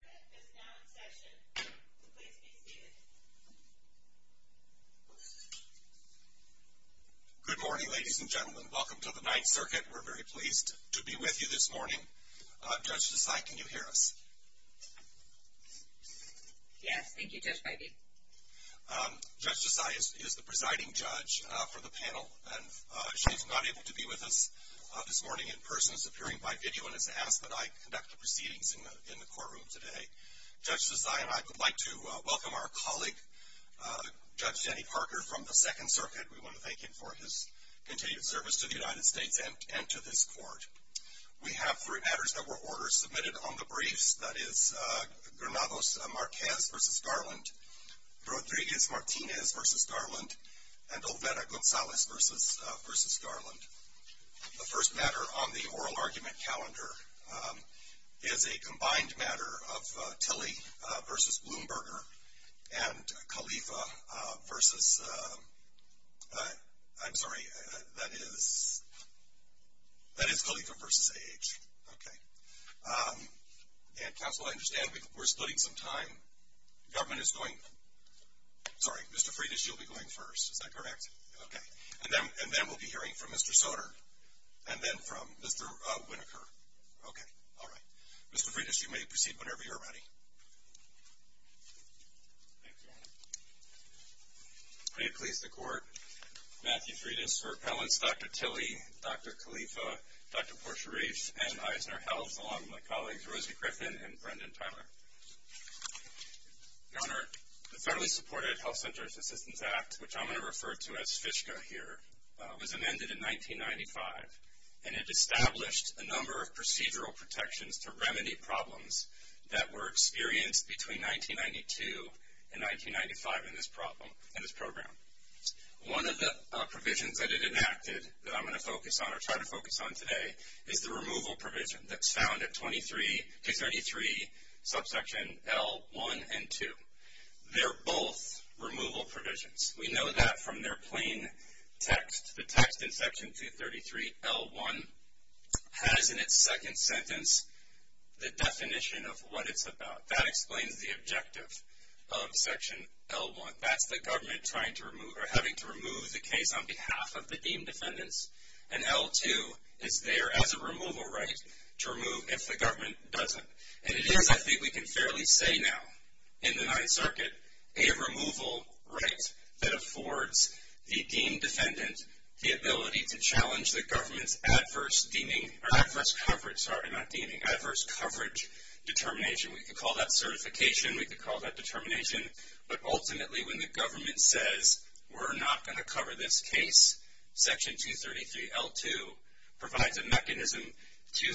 The 9th Circuit is now in session. Please be seated. Good morning, ladies and gentlemen. Welcome to the 9th Circuit. We're very pleased to be with you this morning. Judge Desai, can you hear us? Yes. Thank you, Judge Beide. Judge Desai is the presiding judge for the panel, and she is not able to be with us this morning in person. She is appearing by video and has asked that I conduct the proceedings in the courtroom today. Judge Desai and I would like to welcome our colleague, Judge Jenny Parker, from the 2nd Circuit. We want to thank him for his continued service to the United States and to this court. We have three matters that were ordered submitted on the briefs. That is Granados Marquez v. Garland, Rodriguez Martinez v. Garland, and Olvera Gonzalez v. Garland. The first matter on the oral argument calendar is a combined matter of Tilley v. Blumberger and Khalifa v. I'm sorry, that is Khalifa v. A.H. Okay. And counsel, I understand we're splitting some time. Government is going, sorry, Mr. Freitas, you'll be going first. Is that correct? Okay. And then we'll be hearing from Mr. Soder and then from Mr. Winokur. Okay. All right. Mr. Freitas, you may proceed whenever you're ready. Thank you, Your Honor. May it please the Court, Matthew Freitas for appellants, Dr. Tilley, Dr. Khalifa, Dr. Portia Reif, and Eisner Helms, along with my colleagues, Rosie Griffin and Brendan Tyler. Your Honor, the federally supported Health Centers Assistance Act, which I'm going to refer to as FSCA here, was amended in 1995, and it established a number of procedural protections to remedy problems that were experienced between 1992 and 1995 in this program. One of the provisions that it enacted that I'm going to focus on or try to focus on today is the removal provision that's found at 23, 233, subsection L1 and 2. They're both removal provisions. We know that from their plain text. The text in section 233, L1, has in its second sentence the definition of what it's about. That explains the objective of section L1. That's the government trying to remove or having to remove the case on behalf of the deemed defendants. And L2 is there as a removal right to remove if the government doesn't. And it is, I think we can fairly say now in the Ninth Circuit, a removal right that affords the deemed defendant the ability to challenge the government's adverse deeming or adverse coverage, sorry, not deeming, adverse coverage determination. We could call that certification. We could call that determination. But ultimately when the government says we're not going to cover this case, section 233, L2 provides a mechanism to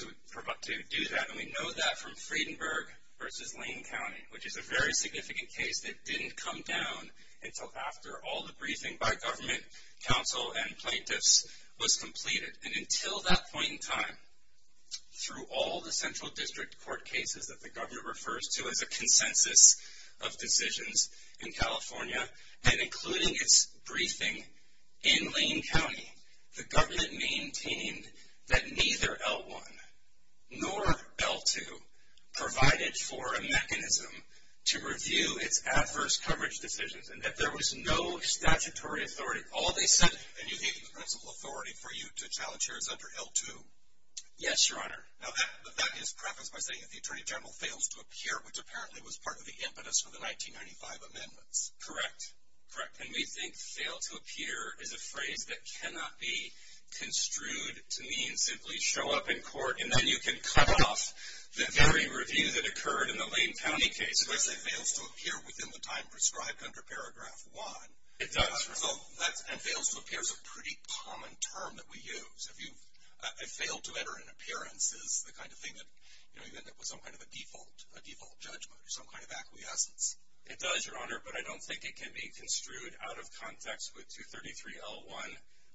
do that. And we know that from Friedenberg v. Lane County, which is a very significant case that didn't come down until after all the briefing by government, council, and plaintiffs was completed. And until that point in time, through all the central district court cases that the governor refers to as a consensus of decisions in California, and including its briefing in Lane County, the government maintained that neither L1 nor L2 provided for a mechanism to review its adverse coverage decisions and that there was no statutory authority. All they said. And you think the principal authority for you to challenge here is under L2? Yes, Your Honor. Now that is prefaced by saying that the Attorney General fails to appear, which apparently was part of the impetus for the 1995 amendments. Correct. Correct. And we think fail to appear is a phrase that cannot be construed to mean simply show up in court and then you can cut off the very review that occurred in the Lane County case. So I say fails to appear within the time prescribed under Paragraph 1. It does. And fails to appear is a pretty common term that we use. If you fail to enter an appearance, is the kind of thing that you end up with some kind of a default judgment, some kind of acquiescence. It does, Your Honor, but I don't think it can be construed out of context with 233L1,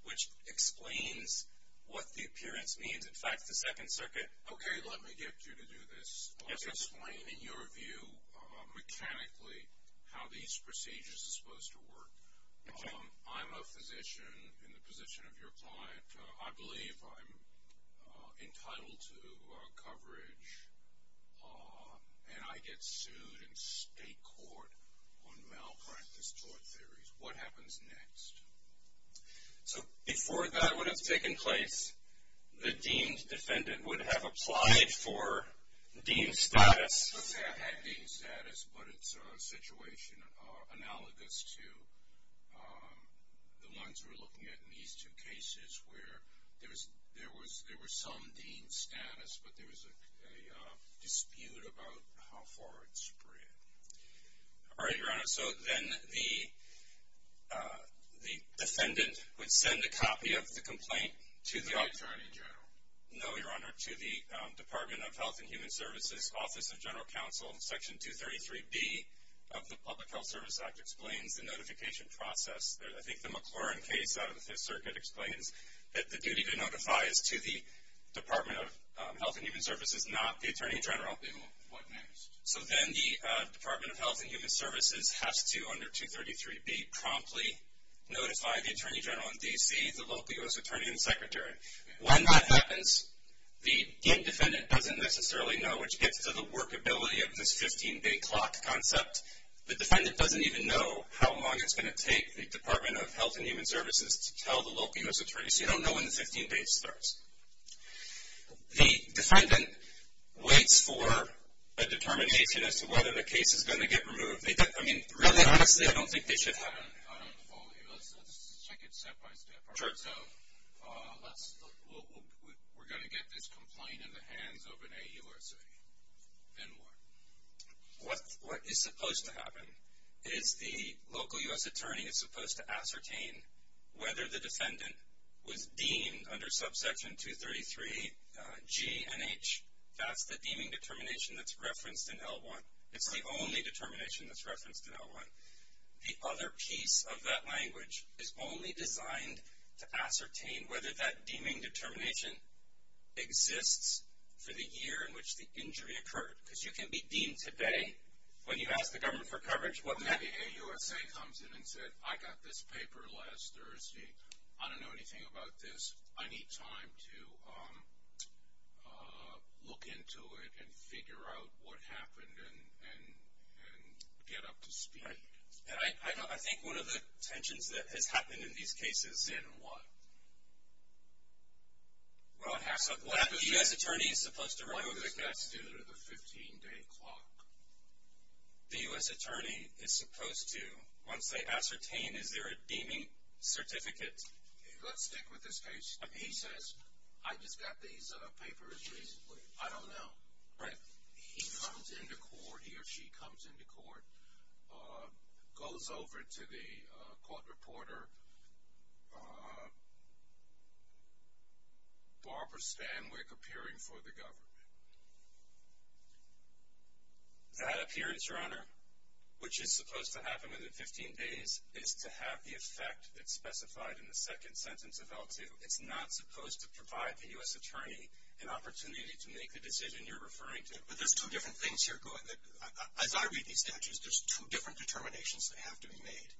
which explains what the appearance means. In fact, the Second Circuit. Okay. Let me get you to do this. Let's explain in your view mechanically how these procedures are supposed to work. I'm a physician in the position of your client. I believe I'm entitled to coverage, and I get sued in state court on malpractice tort theories. What happens next? So before that would have taken place, the deemed defendant would have applied for deemed status. That had deemed status, but it's a situation analogous to the ones we're looking at in these two cases where there was some deemed status, but there was a dispute about how far it spread. All right, Your Honor. So then the defendant would send a copy of the complaint to the – Attorney General. No, Your Honor, to the Department of Health and Human Services Office of General Counsel. Section 233B of the Public Health Service Act explains the notification process. I think the McLaurin case out of the Fifth Circuit explains that the duty to notify is to the Department of Health and Human Services, not the Attorney General. What next? So then the Department of Health and Human Services has to, under 233B, promptly notify the Attorney General in D.C., the local U.S. Attorney and Secretary. When that happens, the deemed defendant doesn't necessarily know, which gets to the workability of this 15-day clock concept. The defendant doesn't even know how long it's going to take the Department of Health and Human Services to tell the local U.S. Attorney, so you don't know when the 15 days starts. The defendant waits for a determination as to whether the case is going to get removed. I mean, really, honestly, I don't think they should have. I don't follow you. Let's take it step by step. Sure. So we're going to get this complaint in the hands of an AUSA, then what? What is supposed to happen is the local U.S. Attorney is supposed to ascertain whether the defendant was deemed under Subsection 233G and H. That's the deeming determination that's referenced in L1. It's the only determination that's referenced in L1. The other piece of that language is only designed to ascertain whether that deeming determination exists for the year in which the injury occurred. Because you can be deemed today when you ask the government for coverage. What if the AUSA comes in and says, I got this paper last Thursday. I don't know anything about this. I need time to look into it and figure out what happened and get up to speed. I think one of the tensions that has happened in these cases. In what? The U.S. Attorney is supposed to remove the case. What does that do to the 15-day clock? The U.S. Attorney is supposed to, once they ascertain, is there a deeming certificate? Let's stick with this case. He says, I just got these papers recently. I don't know. Right. He comes into court, he or she comes into court, goes over to the court reporter, Barbara Stanwyck appearing for the government. That appearance, Your Honor, which is supposed to happen within 15 days, is to have the effect that's specified in the second sentence of L2. It's not supposed to provide the U.S. Attorney an opportunity to make the decision you're referring to. But there's two different things here. As I read these statutes, there's two different determinations that have to be made.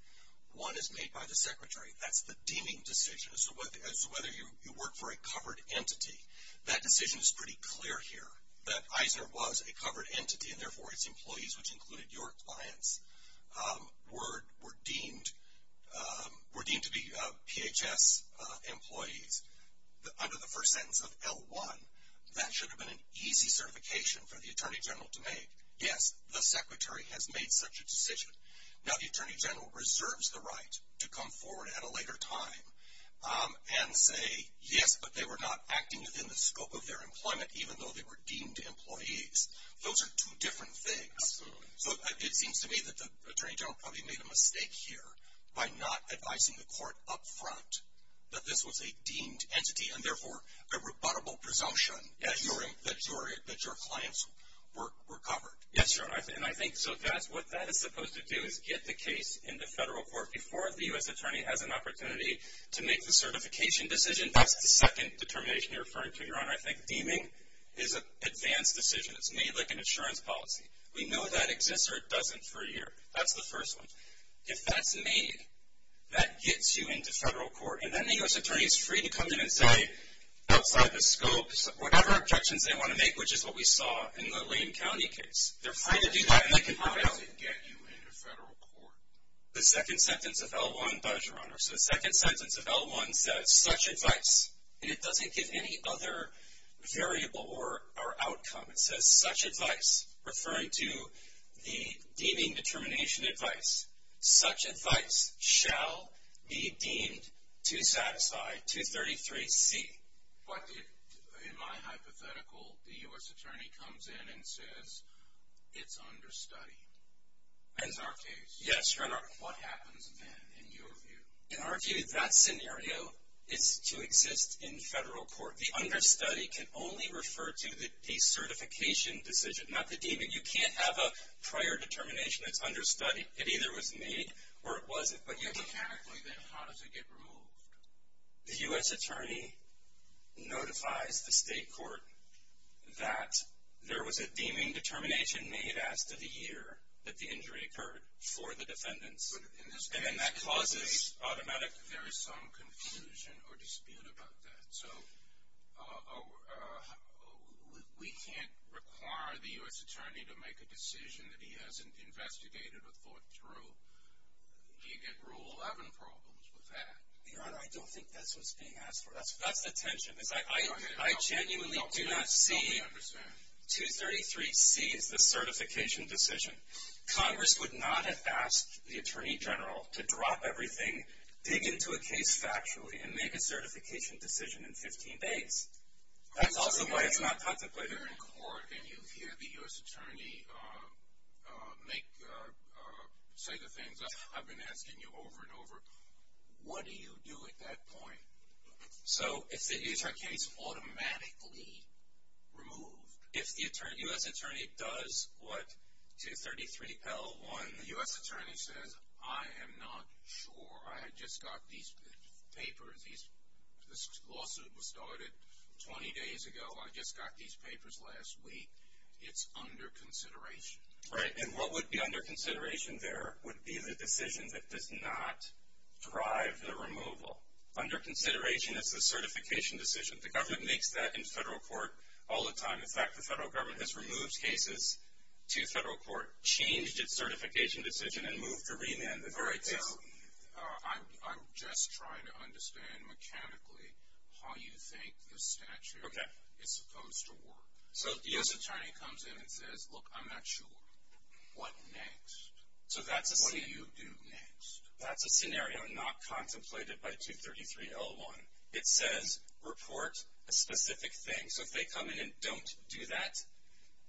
One is made by the Secretary. That's the deeming decision. So whether you work for a covered entity, that decision is pretty clear here. That Eisner was a covered entity and, therefore, its employees, which included your clients, were deemed to be PHS employees under the first sentence of L1. That should have been an easy certification for the Attorney General to make. Yes, the Secretary has made such a decision. Now the Attorney General reserves the right to come forward at a later time and say, yes, but they were not acting within the scope of their employment, even though they were deemed employees. Those are two different things. So it seems to me that the Attorney General probably made a mistake here by not advising the court up front that this was a deemed entity and, therefore, a rebuttable presumption that your clients were covered. Yes, Your Honor, and I think what that is supposed to do is get the case in the federal court before the U.S. Attorney has an opportunity to make the certification decision. And that's the second determination you're referring to, Your Honor. I think deeming is an advanced decision. It's made like an insurance policy. We know that exists or it doesn't for a year. That's the first one. If that's made, that gets you into federal court. And then the U.S. Attorney is free to come in and say, outside the scope, whatever objections they want to make, which is what we saw in the Lane County case, they're free to do that and they can prevail. How does it get you into federal court? The second sentence of L1 does, Your Honor. So the second sentence of L1 says, such advice. And it doesn't give any other variable or outcome. It says, such advice, referring to the deeming determination advice. Such advice shall be deemed to satisfy 233C. But in my hypothetical, the U.S. Attorney comes in and says, it's understudied. That's our case. Yes, Your Honor. What happens then, in your view? In our view, that scenario is to exist in federal court. The understudy can only refer to the decertification decision, not the deeming. You can't have a prior determination that's understudied. It either was made or it wasn't. But mechanically, then, how does it get removed? The U.S. Attorney notifies the state court that there was a deeming determination that had been made as to the year that the injury occurred for the defendants. But in this case, there is some confusion or dispute about that. So we can't require the U.S. Attorney to make a decision that he hasn't investigated or thought through. You get Rule 11 problems with that. Your Honor, I don't think that's what's being asked for. That's the tension. I genuinely do not see 233C as the certification decision. Congress would not have asked the Attorney General to drop everything, dig into a case factually, and make a certification decision in 15 days. That's also why it's not contemplated. You're in court and you hear the U.S. Attorney say the things I've been asking you over and over. What do you do at that point? So it's a case automatically removed. If the U.S. Attorney does what 233L1, the U.S. Attorney says, I am not sure, I just got these papers, this lawsuit was started 20 days ago, I just got these papers last week, it's under consideration. Right. And what would be under consideration there would be the decision that does not drive the removal. Under consideration is the certification decision. The government makes that in federal court all the time. In fact, the federal government has removed cases to federal court, changed its certification decision, and moved to remand. All right, so I'm just trying to understand mechanically how you think the statute is supposed to work. So if the U.S. Attorney comes in and says, look, I'm not sure, what next? What do you do next? That's a scenario not contemplated by 233L1. It says report a specific thing. So if they come in and don't do that,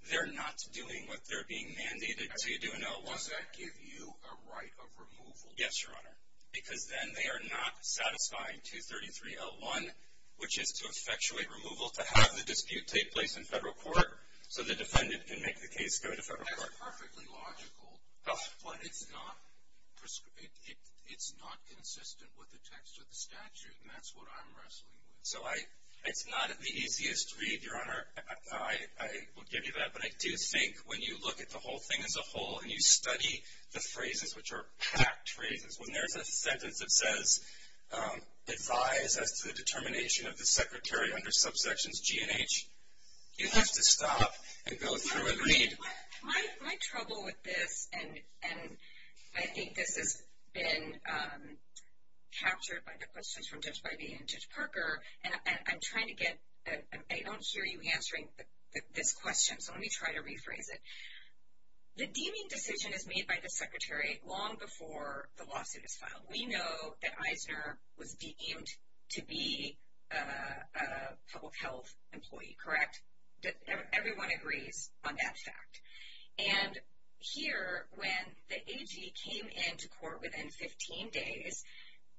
they're not doing what they're being mandated to do in L1. Does that give you a right of removal? Yes, Your Honor, because then they are not satisfying 233L1, which is to effectuate removal to have the dispute take place in federal court so the defendant can make the case go to federal court. That's perfectly logical, but it's not consistent with the text of the statute, and that's what I'm wrestling with. So it's not the easiest read, Your Honor. I will give you that, but I do think when you look at the whole thing as a whole and you study the phrases, which are packed phrases, when there's a sentence that says advise as to the determination of the secretary under subsections G and H, you have to stop and go through and read. My trouble with this, and I think this has been captured by the questions from Judge Bidey and Judge Parker, and I don't hear you answering this question, so let me try to rephrase it. The deeming decision is made by the secretary long before the lawsuit is filed. We know that Eisner was deemed to be a public health employee, correct? Everyone agrees on that fact. And here, when the AG came into court within 15 days,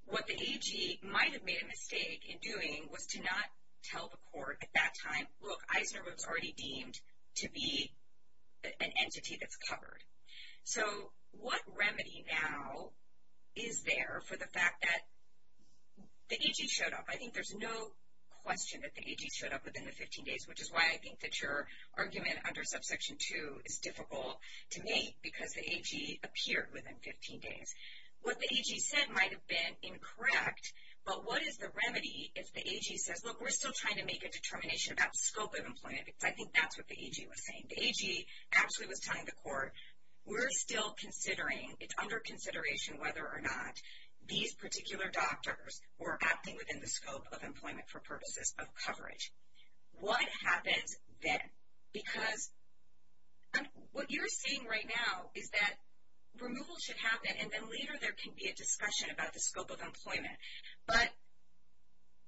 what the AG might have made a mistake in doing was to not tell the court at that time, look, Eisner was already deemed to be an entity that's covered. So what remedy now is there for the fact that the AG showed up? I think there's no question that the AG showed up within the 15 days, which is why I think that your argument under subsection 2 is difficult to make because the AG appeared within 15 days. What the AG said might have been incorrect, but what is the remedy if the AG says, look, we're still trying to make a determination about the scope of employment because I think that's what the AG was saying. The AG actually was telling the court, we're still considering, it's under consideration whether or not these particular doctors were acting within the scope of employment for purposes of coverage. What happens then? Because what you're seeing right now is that removal should happen, and then later there can be a discussion about the scope of employment. But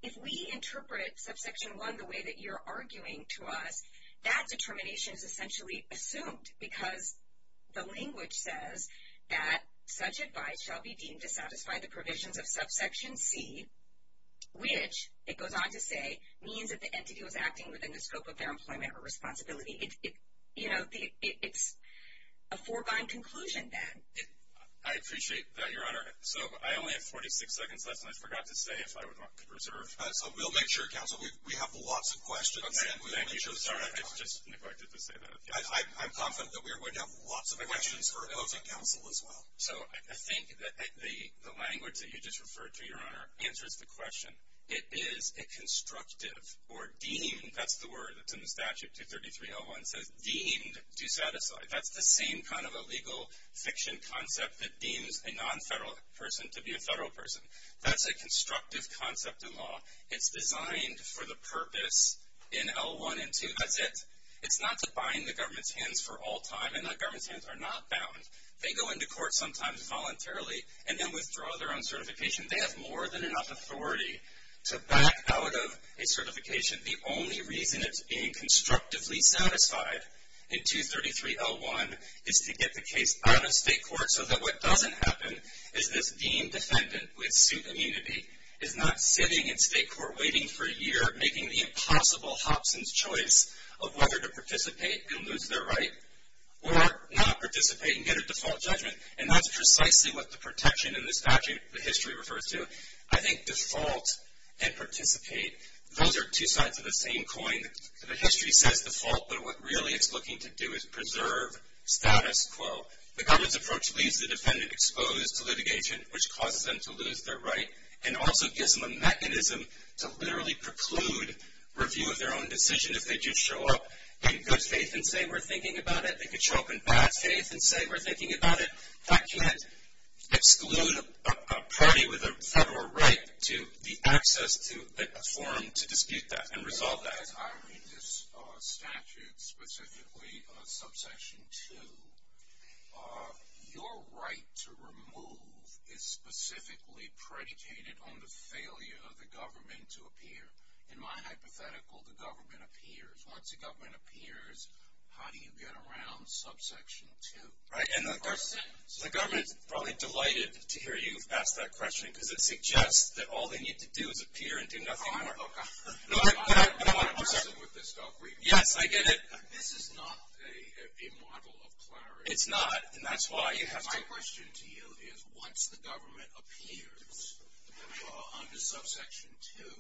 if we interpret subsection 1 the way that you're arguing to us, that determination is essentially assumed because the language says that such advice shall be deemed to satisfy the provisions of subsection C, which, it goes on to say, means that the entity was acting within the scope of their employment or responsibility. You know, it's a foregone conclusion then. I appreciate that, Your Honor. So I only have 46 seconds left, and I forgot to say if I wanted to reserve. So we'll make sure, counsel, we have lots of questions. Thank you. Sorry, I just neglected to say that. I'm confident that we have lots of questions for opposing counsel as well. So I think that the language that you just referred to, Your Honor, answers the question. It is a constructive or deemed, that's the word that's in the statute, 233-01, says deemed to satisfy. That's the same kind of a legal fiction concept that deems a nonfederal person to be a federal person. That's a constructive concept in law. It's designed for the purpose in L-1 and 2. That's it. It's not to bind the government's hands for all time, and the government's hands are not bound. They go into court sometimes voluntarily and then withdraw their own certification. They have more than enough authority to back out of a certification. The only reason it's being constructively satisfied in 233-01 is to get the case out of state court so that what doesn't happen is this deemed defendant with suit immunity is not sitting in state court waiting for a year, making the impossible hops and choice of whether to participate and lose their right or not participate and get a default judgment. And that's precisely what the protection in this statute, the history refers to. I think default and participate, those are two sides of the same coin. The history says default, but what really it's looking to do is preserve status quo. The government's approach leaves the defendant exposed to litigation, which causes them to lose their right and also gives them a mechanism to literally preclude review of their own decision. If they just show up in good faith and say we're thinking about it, they could show up in bad faith and say we're thinking about it. That can't exclude a party with a federal right to the access to a forum to dispute that and resolve that. As I read this statute, specifically subsection 2, your right to remove is specifically predicated on the failure of the government to appear. In my hypothetical, the government appears. Once the government appears, how do you get around subsection 2? The government's probably delighted to hear you ask that question because it suggests that all they need to do is appear and do nothing more. Oh, God. I'm not a good person with this stuff. Yes, I get it. This is not a model of clarity. It's not, and that's why you have to. My question to you is once the government appears under subsection 2,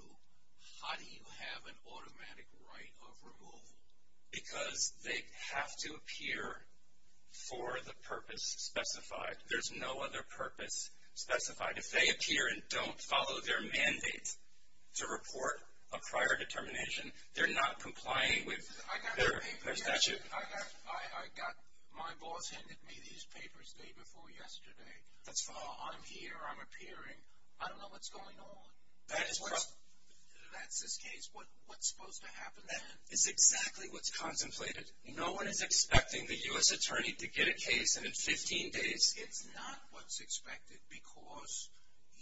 how do you have an automatic right of removal? Because they have to appear for the purpose specified. There's no other purpose specified. If they appear and don't follow their mandate to report a prior determination, they're not complying with their statute. I got my boss handing me these papers the day before yesterday. That's all. I'm here. I'm appearing. I don't know what's going on. That's this case. What's supposed to happen then? It's exactly what's contemplated. No one is expecting the U.S. attorney to get a case in 15 days. It's not what's expected because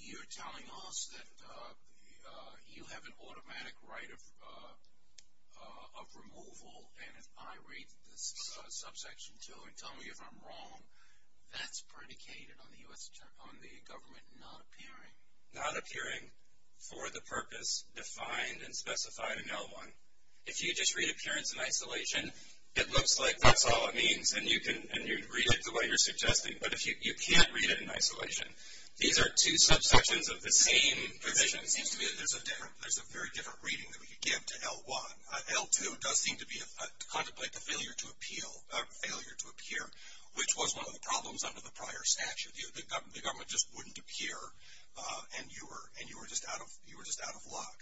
you're telling us that you have an automatic right of removal, and if I read this subsection 2 and tell me if I'm wrong, that's predicated on the government not appearing. Not appearing for the purpose defined and specified in L1. If you just read appearance in isolation, it looks like that's all it means, and you can read it the way you're suggesting. But you can't read it in isolation. These are two subsections of the same position. It seems to me that there's a very different reading that we could give to L1. L2 does seem to contemplate the failure to appear, which was one of the problems under the prior statute. The government just wouldn't appear, and you were just out of luck.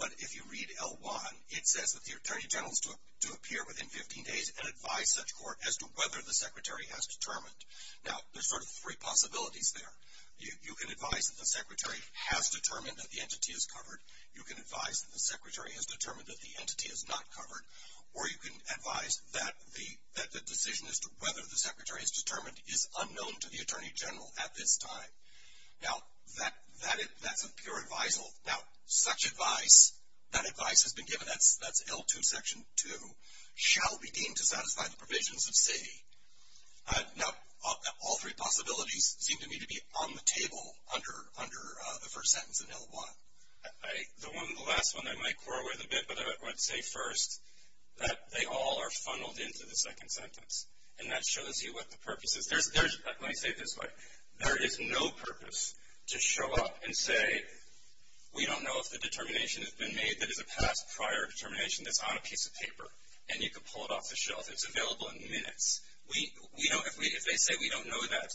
But if you read L1, it says that the attorney general is to appear within 15 days and advise such court as to whether the secretary has determined. Now, there's sort of three possibilities there. You can advise that the secretary has determined that the entity is covered. You can advise that the secretary has determined that the entity is not covered, or you can advise that the decision as to whether the secretary is determined is unknown to the attorney general at this time. Now, that's a pure advisal. Now, such advice, that advice has been given. That's L2, section 2. Shall we deem to satisfy the provisions of C? Now, all three possibilities seem to me to be on the table under the first sentence in L1. The last one I might quarrel with a bit, but I would say first that they all are funneled into the second sentence, and that shows you what the purpose is. Let me say it this way. There is no purpose to show up and say, we don't know if the determination has been made that is a past prior determination that's on a piece of paper, and you can pull it off the shelf. It's available in minutes. If they say we don't know that,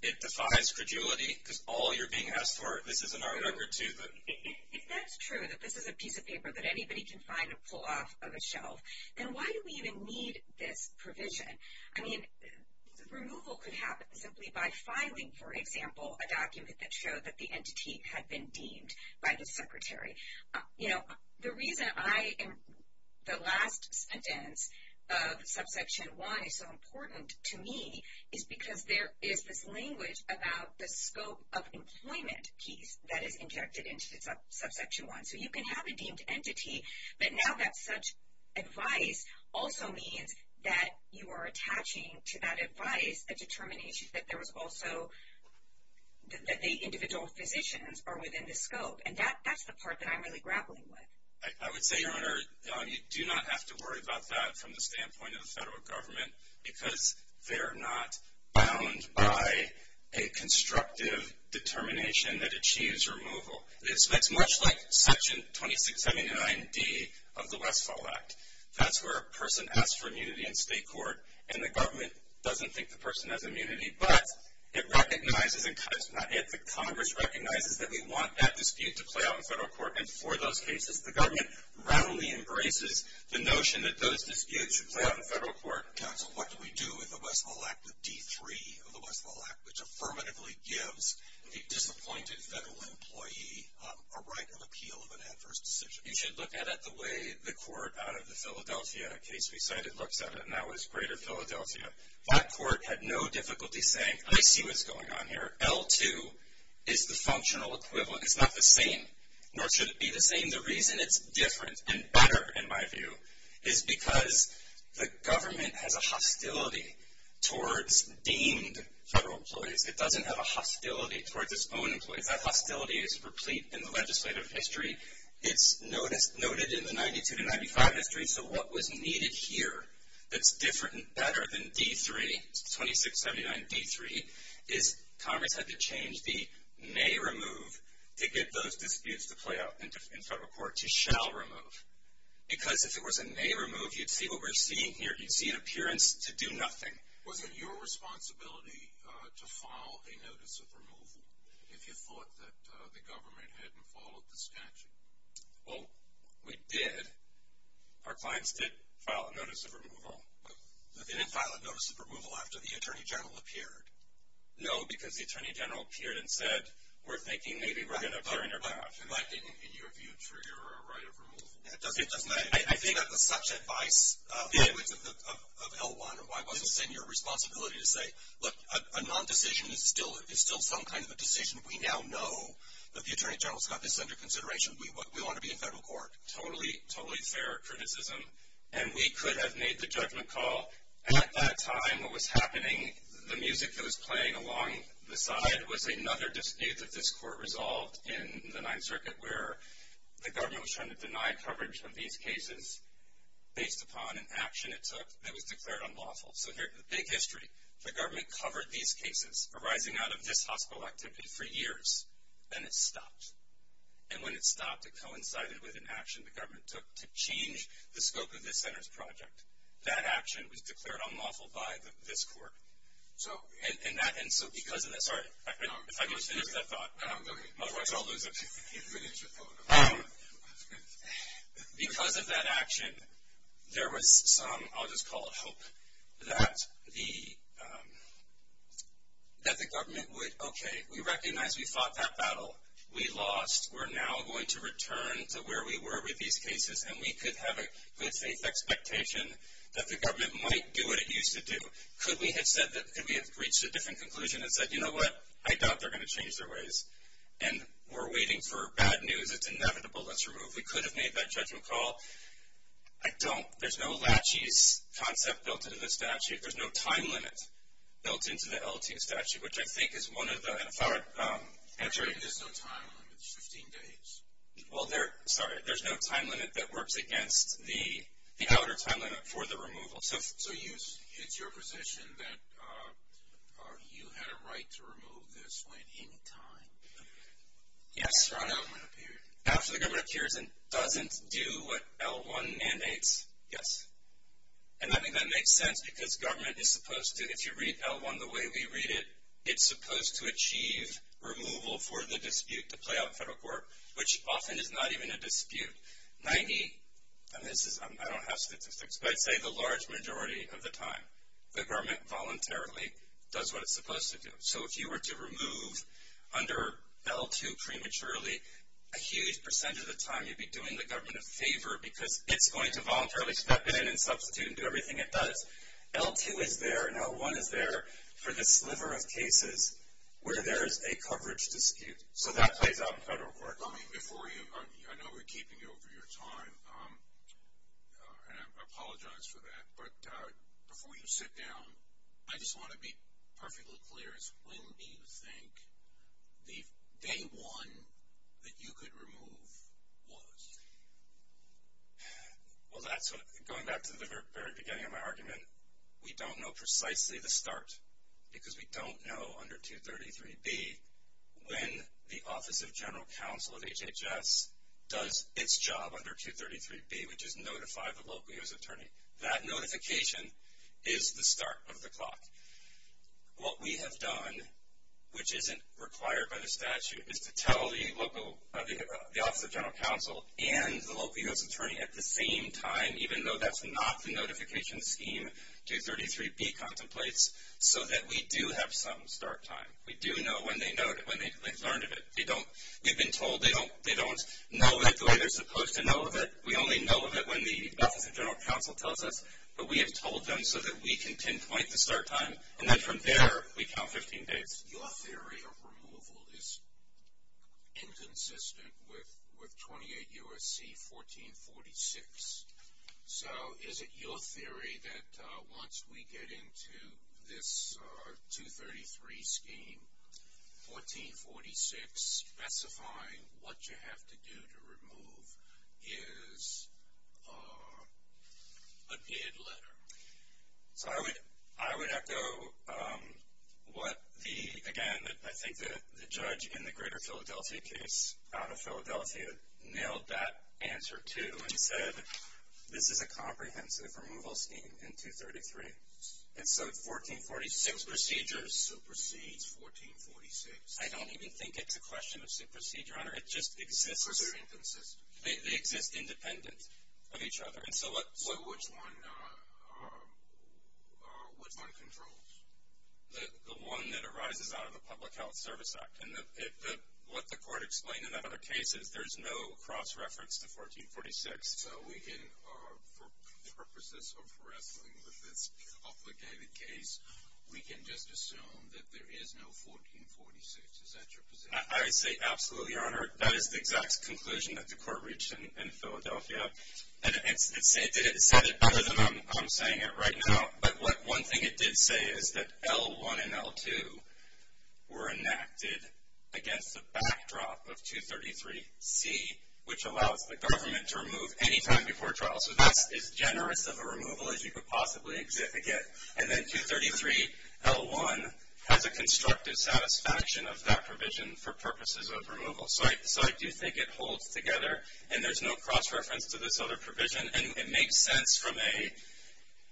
it defies credulity because all you're being asked for, this is an argument to them. If that's true, that this is a piece of paper that anybody can find and pull off of a shelf, then why do we even need this provision? I mean, removal could happen simply by filing, for example, a document that showed that the entity had been deemed by the secretary. You know, the reason I am the last sentence of subsection 1 is so important to me is because there is this language about the scope of employment piece that is injected into subsection 1. So you can have a deemed entity, but now that such advice also means that you are attaching to that advice a determination that there was also that the individual physicians are within the scope, and that's the part that I'm really grappling with. I would say, Your Honor, you do not have to worry about that from the standpoint of the federal government because they're not bound by a constructive determination that achieves removal. It's much like section 2679D of the Westfall Act. That's where a person asks for immunity in state court, and the government doesn't think the person has immunity, but it recognizes, and the Congress recognizes that we want that dispute to play out in federal court, and for those cases, the government roundly embraces the notion that those disputes should play out in federal court. Your Honor, counsel, what do we do with the Westfall Act, the D3 of the Westfall Act, which affirmatively gives a disappointed federal employee a right of appeal of an adverse decision? You should look at it the way the court out of the Philadelphia case we cited looks at it, and that was greater Philadelphia. That court had no difficulty saying, I see what's going on here. L2 is the functional equivalent. It's not the same, nor should it be the same. And the reason it's different and better, in my view, is because the government has a hostility towards deemed federal employees. It doesn't have a hostility towards its own employees. That hostility is replete in the legislative history. It's noted in the 92 to 95 history, so what was needed here that's different and better than D3, 2679D3, is Congress had to change the may remove to get those disputes to play out in federal court to shall remove. Because if it was a may remove, you'd see what we're seeing here. You'd see an appearance to do nothing. Was it your responsibility to file a notice of removal if you thought that the government hadn't followed the statute? Well, we did. Our clients did file a notice of removal. But they didn't file a notice of removal after the attorney general appeared. No, because the attorney general appeared and said, we're thinking maybe we're going to appear in your behalf. In your view, trigger a right of removal. I think that was such advice of L1. It wasn't your responsibility to say, look, a non-decision is still some kind of a decision. We now know that the attorney general's got this under consideration. We want to be in federal court. Totally, totally fair criticism. And we could have made the judgment call at that time what was happening. The music that was playing along the side was another dispute that this court resolved in the Ninth Circuit, where the government was trying to deny coverage of these cases based upon an action it took that was declared unlawful. So here's the big history. The government covered these cases arising out of this hospital activity for years. Then it stopped. And when it stopped, it coincided with an action the government took to change the scope of this center's project. That action was declared unlawful by this court. And so because of that, sorry, if I can finish that thought. Otherwise I'll lose it. Because of that action, there was some, I'll just call it hope, that the government, okay, we recognize we fought that battle. We lost. We're now going to return to where we were with these cases, and we could have a good faith expectation that the government might do what it used to do. Could we have said that, could we have reached a different conclusion and said, you know what? I doubt they're going to change their ways. And we're waiting for bad news. It's inevitable. Let's remove. We could have made that judgment call. I don't. There's no lachies concept built into the statute. There's no time limit built into the LT statute, which I think is one of the, I'm sorry. There's no time limit. It's 15 days. Well, there, sorry, there's no time limit that works against the outer time limit for the removal. So it's your position that you had a right to remove this at any time? Yes. After an L1 period. After the government appears and doesn't do what L1 mandates. Yes. And I think that makes sense because government is supposed to, if you read L1 the way we read it, it's supposed to achieve removal for the dispute to play out in federal court, which often is not even a dispute. 90, and this is, I don't have statistics, but I'd say the large majority of the time, the government voluntarily does what it's supposed to do. So if you were to remove under L2 prematurely, a huge percent of the time you'd be doing the government a favor because it's going to voluntarily step in and substitute and do everything it does. L2 is there and L1 is there for this sliver of cases where there is a coverage dispute. So that plays out in federal court. Let me, before you, I know we're keeping you over your time, and I apologize for that, but before you sit down, I just want to be perfectly clear. When do you think the day one that you could remove was? Well, that's what, going back to the very beginning of my argument, we don't know precisely the start because we don't know under 233B when the Office of General Counsel at HHS does its job under 233B, which is notify the local U.S. attorney. That notification is the start of the clock. What we have done, which isn't required by the statute, is to tell the Office of General Counsel and the local U.S. attorney at the same time, even though that's not the notification scheme 233B contemplates, so that we do have some start time. We do know when they've learned of it. We've been told they don't know it the way they're supposed to know of it. We only know of it when the Office of General Counsel tells us, but we have told them so that we can pinpoint the start time, and then from there we count 15 days. Your theory of removal is inconsistent with 28 U.S.C. 1446. So is it your theory that once we get into this 233 scheme, 1446 specifying what you have to do to remove is a dead letter? So I would echo what the, again, I think the judge in the Greater Philadelphia case, out of Philadelphia, nailed that answer, too, and said this is a comprehensive removal scheme in 233. And so 1446 procedures supersedes 1446. I don't even think it's a question of supersede, Your Honor. It just exists. Because they're inconsistent. They exist independent of each other. So which one controls? The one that arises out of the Public Health Service Act. And what the court explained in that other case is there's no cross-reference to 1446. So we can, for purposes of wrestling with this obligated case, we can just assume that there is no 1446. Is that your position? I would say absolutely, Your Honor. That is the exact conclusion that the court reached in Philadelphia. And it said it better than I'm saying it right now. But one thing it did say is that L1 and L2 were enacted against the backdrop of 233C, which allows the government to remove any time before trial. So that's as generous of a removal as you could possibly get. And then 233L1 has a constructive satisfaction of that provision for purposes of removal. So I do think it holds together. And there's no cross-reference to this other provision. And it makes sense from a,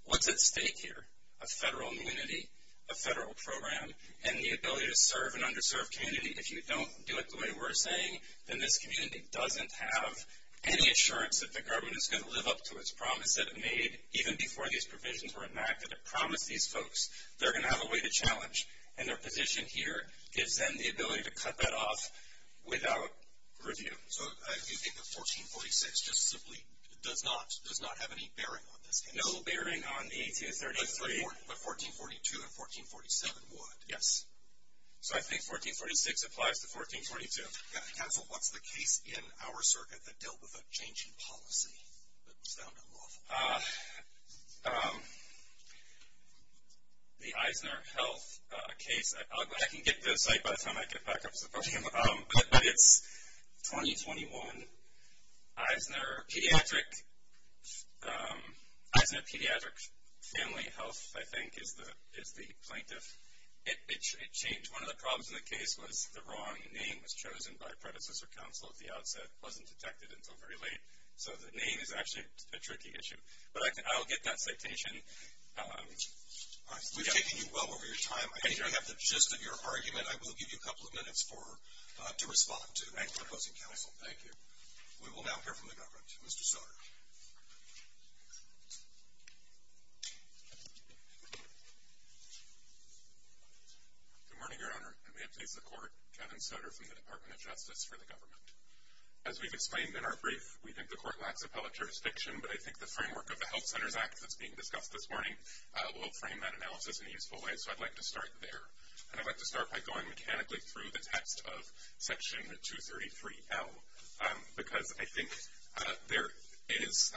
what's at stake here? A federal immunity, a federal program, and the ability to serve an underserved community. If you don't do it the way we're saying, then this community doesn't have any assurance that the government is going to live up to its promise that it made even before these provisions were enacted. It promised these folks they're going to have a way to challenge. And their position here gives them the ability to cut that off without review. So you think that 1446 just simply does not have any bearing on this case? No bearing on the 1833. But 1442 and 1447 would? Yes. So I think 1446 applies to 1442. Counsel, what's the case in our circuit that dealt with a change in policy that was found unlawful? The Eisner Health case. I can get to the site by the time I get back up to the podium. But it's 2021. Eisner Pediatric Family Health, I think, is the plaintiff. It changed. One of the problems in the case was the wrong name was chosen by predecessor counsel at the outset. It wasn't detected until very late. So the name is actually a tricky issue. But I'll get that citation. We've taken you well over your time. I think we have the gist of your argument. I will give you a couple of minutes to respond to the opposing counsel. Thank you. We will now hear from the government. Mr. Soder. Good morning, Your Honor. And may it please the Court, Kevin Soder from the Department of Justice for the Government. As we've explained in our brief, we think the Court lacks appellate jurisdiction. But I think the framework of the Health Centers Act that's being discussed this morning will frame that analysis in a useful way. So I'd like to start there. And I'd like to start by going mechanically through the text of Section 233L. Because I think there is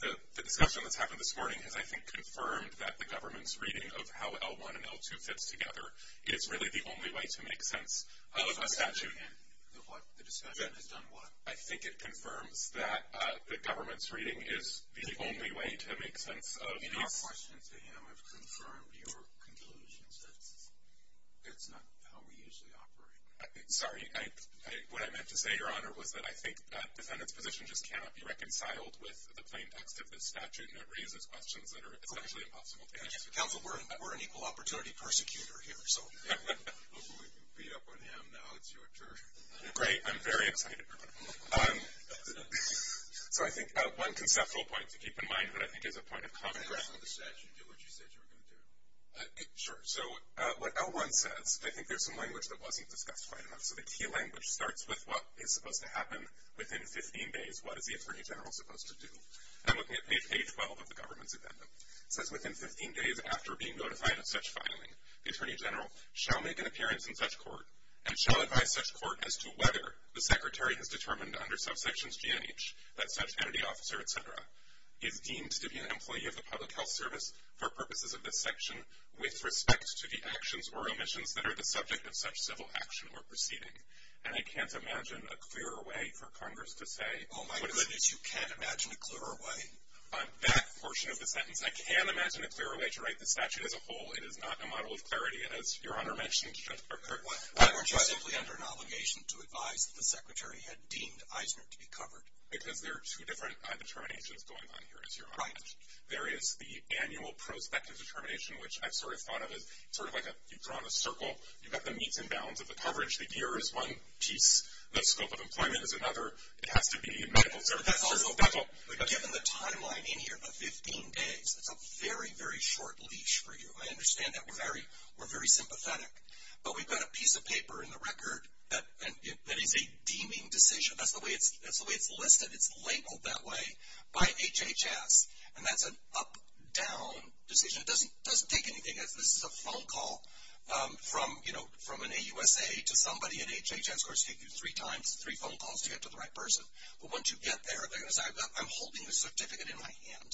the discussion that's happened this morning has, I think, confirmed that the government's reading of how L1 and L2 fits together is really the only way to make sense of a statute. And the discussion has done what? I think it confirms that the government's reading is the only way to make sense of these. Your questions to him have confirmed your conclusions. That's not how we usually operate. Sorry. What I meant to say, Your Honor, was that I think the defendant's position just cannot be reconciled with the plain text of this statute. And it raises questions that are essentially impossible to answer. Counsel, we're an equal opportunity persecutor here. Hopefully we can beat up on him now. It's your turn. Great. I'm very excited, Your Honor. So I think one conceptual point to keep in mind that I think is a point of common ground. Can I ask the statute to do what you said you were going to do? Sure. So what L1 says, I think there's some language that wasn't discussed quite enough. So the key language starts with what is supposed to happen within 15 days. What is the Attorney General supposed to do? I'm looking at page 12 of the government's agenda. It says within 15 days after being notified of such filing, the Attorney General shall make an appearance in such court and shall advise such court as to whether the Secretary has determined under subsections G&H that such entity, officer, etc., is deemed to be an employee of the public health service for purposes of this section with respect to the actions or omissions that are the subject of such civil action or proceeding. And I can't imagine a clearer way for Congress to say what is... Oh, my goodness, you can't imagine a clearer way? On that portion of the sentence, I can imagine a clearer way to write the statute as a whole. It is not a model of clarity, as Your Honor mentioned. Why weren't you simply under an obligation to advise that the Secretary had deemed Eisner to be covered? Because there are two different determinations going on here, as Your Honor mentioned. Right. There is the annual prospective determination, which I've sort of thought of as sort of like you've drawn a circle. You've got the meets and bounds of the coverage. The year is one piece. The scope of employment is another. It has to be medical services. But given the timeline in here of 15 days, that's a very, very short leash for you. I understand that. We're very sympathetic. But we've got a piece of paper in the record that is a deeming decision. That's the way it's listed. It's labeled that way by HHS, and that's an up-down decision. It doesn't take anything. This is a phone call from an AUSA to somebody at HHS. Of course, it takes you three times, three phone calls to get to the right person. But once you get there, they're going to say, I'm holding the certificate in my hand.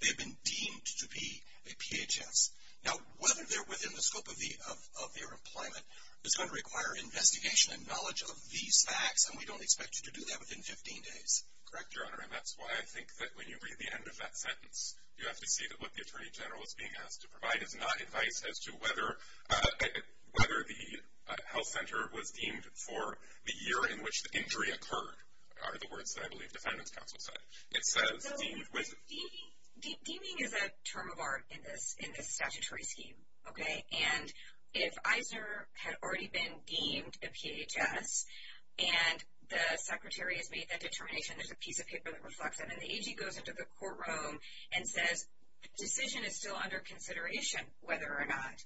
They have been deemed to be a PHS. Now, whether they're within the scope of their employment is going to require investigation and knowledge of these facts, and we don't expect you to do that within 15 days. Correct, Your Honor, and that's why I think that when you read the end of that sentence, you have to see that what the Attorney General is being asked to provide is not advice as to whether the health center was deemed for the year in which the injury occurred, are the words that I believe defendants counsel said. Deeming is a term of art in this statutory scheme, okay? And if Eisner had already been deemed a PHS and the secretary has made that determination, there's a piece of paper that reflects that, and the AG goes into the courtroom and says the decision is still under consideration whether or not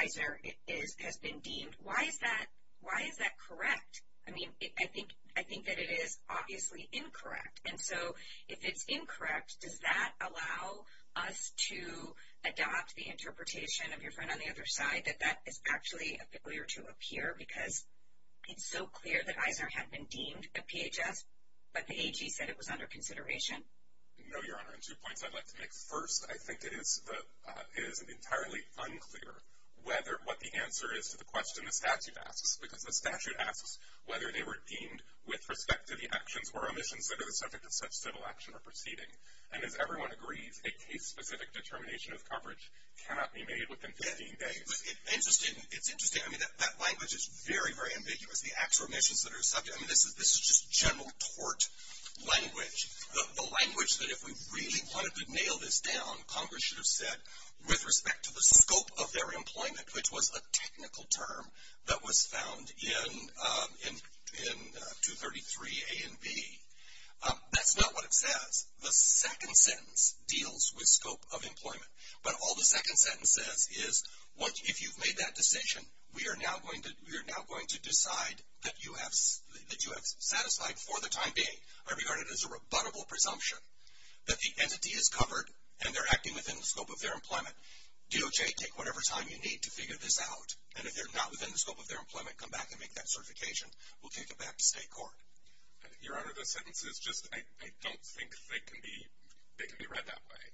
Eisner has been deemed, why is that correct? I mean, I think that it is obviously incorrect. And so if it's incorrect, does that allow us to adopt the interpretation of your friend on the other side, that that is actually peculiar to appear because it's so clear that Eisner had been deemed a PHS, but the AG said it was under consideration? No, Your Honor, and two points I'd like to make. First, I think it is entirely unclear what the answer is to the question the statute asks, because the statute asks whether they were deemed with respect to the actions or omissions that are the subject of such civil action or proceeding. And as everyone agrees, a case-specific determination of coverage cannot be made within 15 days. Interesting. It's interesting. I mean, that language is very, very ambiguous, the acts or omissions that are subject. I mean, this is just general tort language, the language that if we really wanted to nail this down, Congress should have said with respect to the scope of their employment, which was a technical term that was found in 233A and B. That's not what it says. The second sentence deals with scope of employment. But all the second sentence says is if you've made that decision, we are now going to decide that you have satisfied for the time being, I regard it as a rebuttable presumption, that the entity is covered and they're acting within the scope of their employment. DOJ, take whatever time you need to figure this out. And if they're not within the scope of their employment, come back and make that certification. We'll take it back to state court. Your Honor, the sentence is just, I don't think they can be read that way.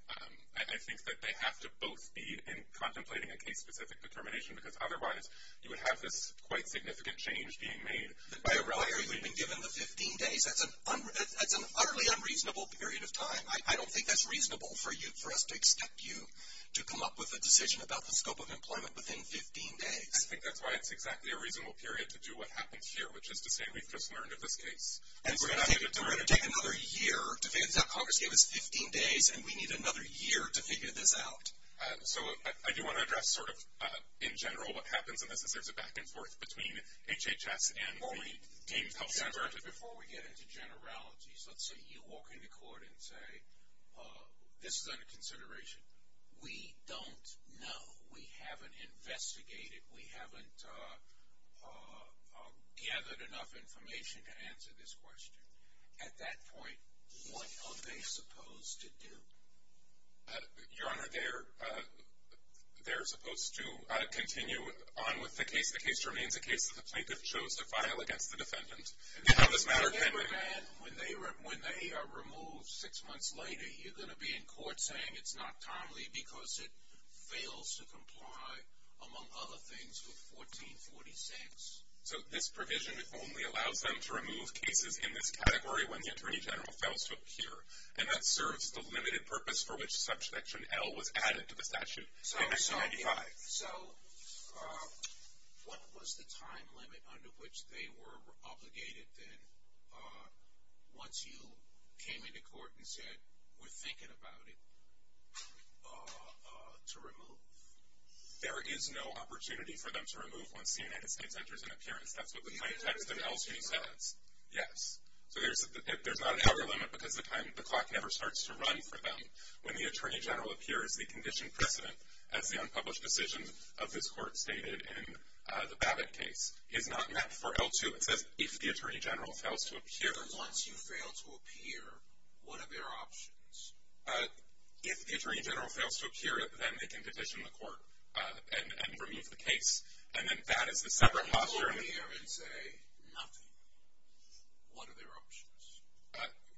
I think that they have to both be in contemplating a case-specific determination because otherwise you would have this quite significant change being made. By a requirement being given the 15 days, that's an utterly unreasonable period of time. I don't think that's reasonable for us to expect you to come up with a decision about the scope of employment within 15 days. I think that's why it's exactly a reasonable period to do what happens here, which is to say we've just learned of this case. And we're going to take another year to figure this out. Congress gave us 15 days, and we need another year to figure this out. So I do want to address sort of in general what happens in this, is there's a back and forth between HHS and the deemed health center. Your Honor, before we get into generalities, let's say you walk into court and say, this is under consideration. We don't know. We haven't investigated. We haven't gathered enough information to answer this question. At that point, what are they supposed to do? Your Honor, they're supposed to continue on with the case. The case remains a case that the plaintiff chose to file against the defendant. When they are removed six months later, you're going to be in court saying it's not timely because it fails to comply, among other things, with 1446. So this provision only allows them to remove cases in this category when the Attorney General fails to appear. And that serves the limited purpose for which Section L was added to the statute in 1995. So what was the time limit under which they were obligated then, once you came into court and said we're thinking about it, to remove? There is no opportunity for them to remove once the United States enters an appearance. That's what the plain text in L.C. says. Yes. So there's not an hour limit because the clock never starts to run for them. When the Attorney General appears, the condition precedent, as the unpublished decision of this Court stated in the Babbitt case, is not met for L2. It says if the Attorney General fails to appear. But once you fail to appear, what are their options? If the Attorney General fails to appear, then they can petition the Court and remove the case. And then that is a separate posture. If they go in there and say nothing, what are their options?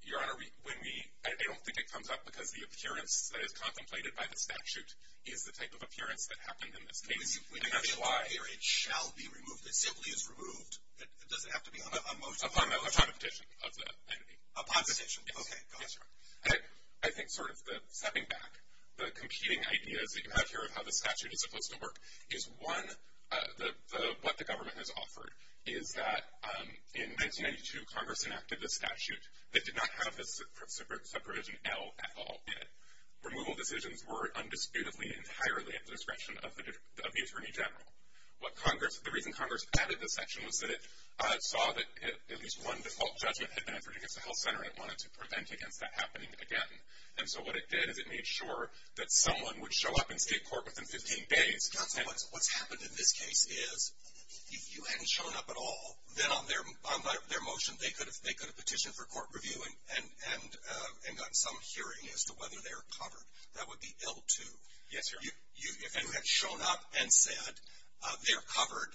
Your Honor, I don't think it comes up because the appearance that is contemplated by the statute is the type of appearance that happened in this case. And that's why. It shall be removed. It simply is removed. It doesn't have to be on motion. Upon electronic petition of the entity. Upon petition. Yes. Okay, go ahead. I think sort of stepping back, the competing ideas that you have here of how the statute is supposed to work is, one, what the government has offered is that in 1992, Congress enacted the statute that did not have the subprovision L at all in it. Removal decisions were undisputedly entirely at the discretion of the Attorney General. The reason Congress added this section was that it saw that at least one default judgment had been entered against the health center, and it wanted to prevent against that happening again. And so what it did is it made sure that someone would show up in state court within 15 days, and what's happened in this case is if you hadn't shown up at all, then on their motion they could have petitioned for court review and gotten some hearing as to whether they were covered. That would be L-2. Yes, sir. If you had shown up and said they're covered,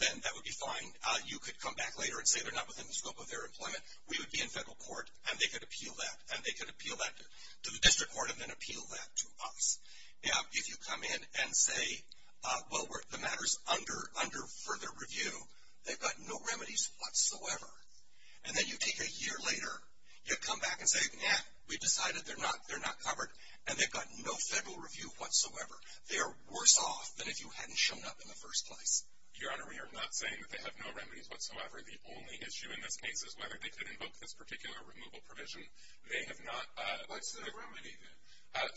then that would be fine. You could come back later and say they're not within the scope of their employment. We would be in federal court, and they could appeal that, and they could appeal that to the district court and then appeal that to us. Now, if you come in and say, well, the matter's under further review, they've got no remedies whatsoever, and then you take a year later, you come back and say, no, we decided they're not covered, and they've got no federal review whatsoever. They are worse off than if you hadn't shown up in the first place. Your Honor, we are not saying that they have no remedies whatsoever. The only issue in this case is whether they could invoke this particular removal provision. They have not. What's the remedy then?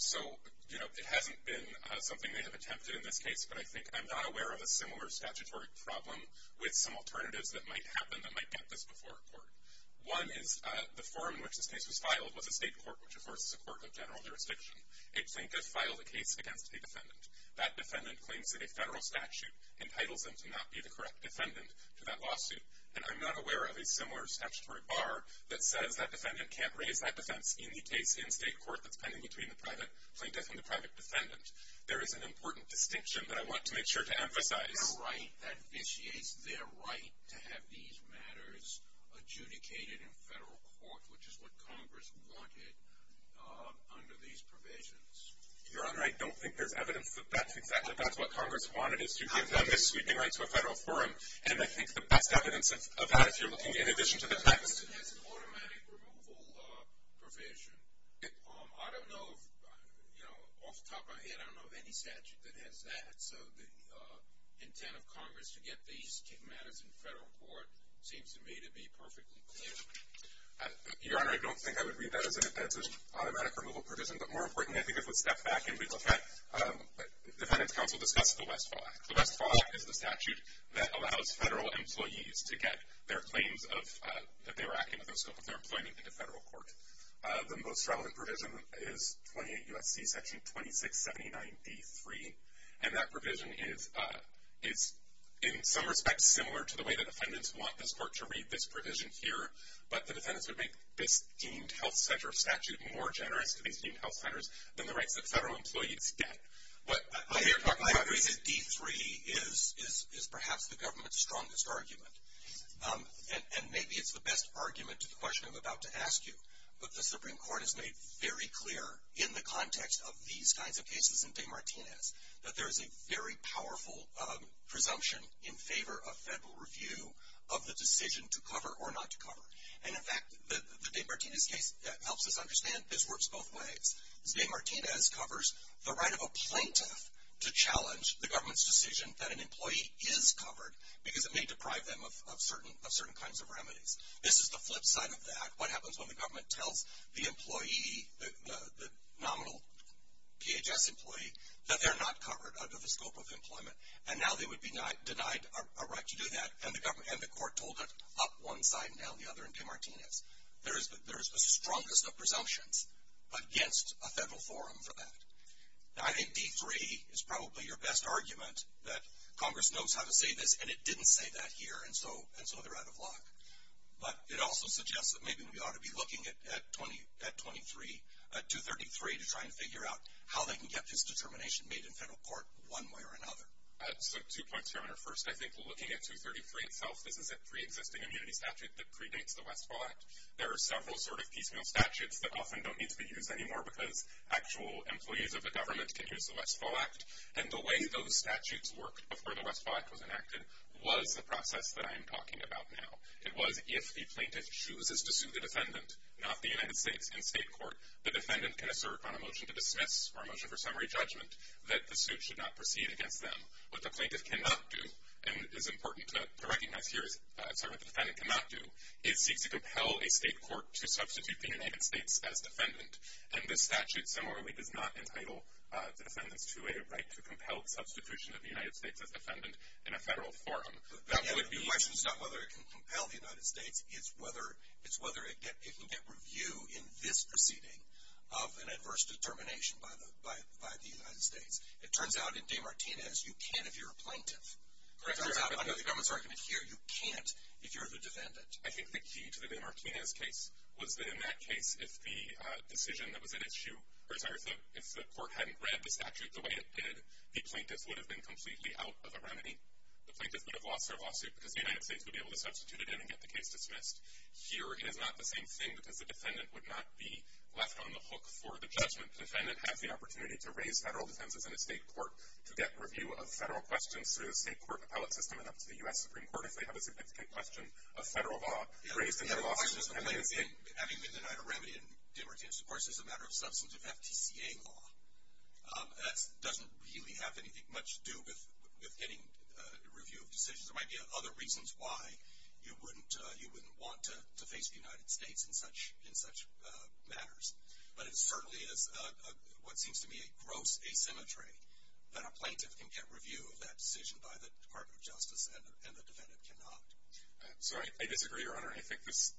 So, you know, it hasn't been something they have attempted in this case, but I think I'm not aware of a similar statutory problem with some alternatives that might happen that might get this before a court. One is the form in which this case was filed was a state court, which, of course, is a court of general jurisdiction. A plaintiff filed a case against a defendant. That defendant claims that a federal statute entitles them to not be the correct defendant to that lawsuit, and I'm not aware of a similar statutory bar that says that defendant can't raise that defense in the case in state court that's pending between the private plaintiff and the private defendant. There is an important distinction that I want to make sure to emphasize. Their right, that vitiates their right to have these matters adjudicated in federal court, which is what Congress wanted under these provisions. Your Honor, I don't think there's evidence that that's exactly what Congress wanted, is to give them this sweeping right to a federal forum, and I think the best evidence of that, if you're looking in addition to the text. The statute has an automatic removal provision. I don't know, off the top of my head, I don't know of any statute that has that, so the intent of Congress to get these two matters in federal court seems to me to be perfectly clear. Your Honor, I don't think I would read that as an offensive automatic removal provision, but more importantly I think it would step back and defend. Defendant's counsel discussed the Westfall Act. The Westfall Act is the statute that allows federal employees to get their claims of that they were acting with the scope of their employment into federal court. The most relevant provision is 28 U.S.C. section 2679 D.3, and that provision is in some respects similar to the way that defendants want this court to read this provision here, but the defendants would make this deemed health center statute more generous to these deemed health centers than the rights that federal employees get. I agree that D.3 is perhaps the government's strongest argument, and maybe it's the best argument to the question I'm about to ask you, but the Supreme Court has made very clear in the context of these kinds of cases and DeMartinez that there is a very powerful presumption in favor of federal review of the decision to cover or not to cover. And, in fact, the DeMartinez case helps us understand this works both ways. DeMartinez covers the right of a plaintiff to challenge the government's decision that an employee is covered because it may deprive them of certain kinds of remedies. This is the flip side of that. What happens when the government tells the employee, the nominal PHS employee, that they're not covered under the scope of employment, and now they would be denied a right to do that, and the court told it up one side and down the other in DeMartinez. There is the strongest of presumptions against a federal forum for that. Now, I think D.3 is probably your best argument that Congress knows how to say this, and it didn't say that here, and so they're out of luck. But it also suggests that maybe we ought to be looking at 23, at 23, to try and figure out how they can get this determination made in federal court one way or another. So two points here on our first. I think looking at 233 itself, this is a preexisting immunity statute that predates the Westfall Act. There are several sort of piecemeal statutes that often don't need to be used anymore because actual employees of the government can use the Westfall Act, and the way those statutes worked before the Westfall Act was enacted was the process that I am talking about now. It was if the plaintiff chooses to sue the defendant, not the United States in state court, the defendant can assert on a motion to dismiss or a motion for summary judgment that the suit should not proceed against them. What the plaintiff cannot do, and it is important to recognize here, sorry, what the defendant cannot do is seek to compel a state court to substitute the United States as defendant, and this statute similarly does not entitle the defendants to a right to compel substitution of the United States as defendant in a federal forum. The question is not whether it can compel the United States. It's whether it can get review in this proceeding of an adverse determination by the United States. It turns out in DeMartinez you can if you're a plaintiff. It turns out under the government's argument here you can't if you're the defendant. I think the key to the DeMartinez case was that in that case if the decision that was at issue, or sorry, if the court hadn't read the statute the way it did, the plaintiff would have been completely out of a remedy. The plaintiff would have lost their lawsuit because the United States would be able to substitute it and get the case dismissed. Here it is not the same thing because the defendant would not be left on the hook for the judgment. The defendant has the opportunity to raise federal defenses in a state court to get review of federal questions through the state court appellate system and up to the U.S. Supreme Court if they have a significant question of federal law raised in their lawsuit. Having been denied a remedy in DeMartinez, of course, is a matter of substantive FTCA law. That doesn't really have anything much to do with getting review of decisions. There might be other reasons why you wouldn't want to face the United States in such matters. But it certainly is what seems to me a gross asymmetry that a plaintiff can get review of that decision by the Department of Justice and the defendant cannot. So I disagree, Your Honor. I think this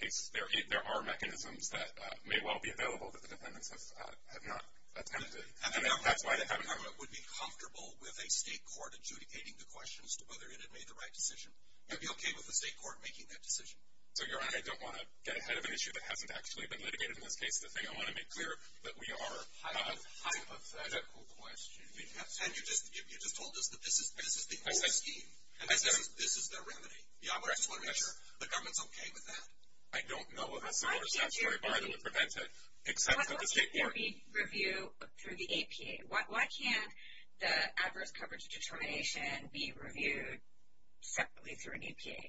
case, there are mechanisms that may well be available that the defendants have not attempted. And that's why the government would be comfortable with a state court adjudicating the questions to whether it had made the right decision. It would be okay with the state court making that decision. So, Your Honor, I don't want to get ahead of an issue that hasn't actually been litigated in this case. The thing I want to make clear that we are... A hypothetical question. And you just told us that this is the old scheme. And this is the remedy. Yeah, but I just want to make sure the government's okay with that. I don't know of a similar statutory bar that would prevent it, except that the state court... The APA. Why can't the adverse coverage determination be reviewed separately through an APA?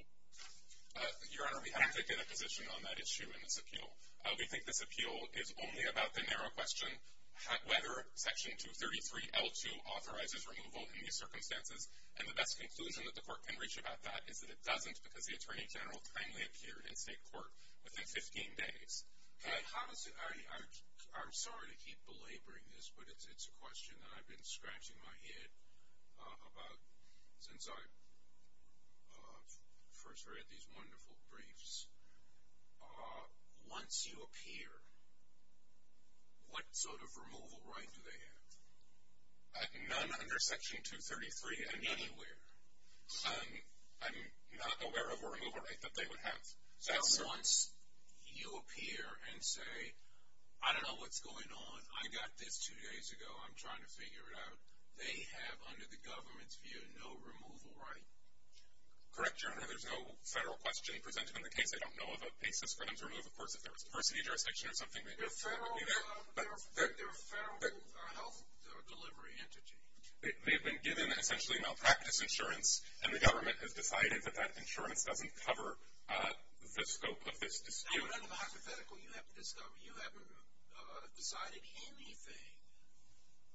Your Honor, we haven't taken a position on that issue in this appeal. We think this appeal is only about the narrow question, whether Section 233L2 authorizes removal in these circumstances. And the best conclusion that the court can reach about that is that it doesn't because the Attorney General kindly appeared in state court within 15 days. I'm sorry to keep belaboring this, but it's a question that I've been scratching my head about since I first read these wonderful briefs. Once you appear, what sort of removal right do they have? None under Section 233 and anywhere. I'm not aware of a removal right that they would have. That's once you appear and say, I don't know what's going on. I got this two days ago. I'm trying to figure it out. They have, under the government's view, no removal right. Correct, Your Honor. There's no federal question presented in the case. I don't know of a basis for them to remove. Of course, if there was a person in your jurisdiction or something, they could. They're a federal health delivery entity. They've been given essentially malpractice insurance, and the government has decided that that insurance doesn't cover the scope of this dispute. Now, what end of the hypothetical do you have to discover? You haven't decided anything.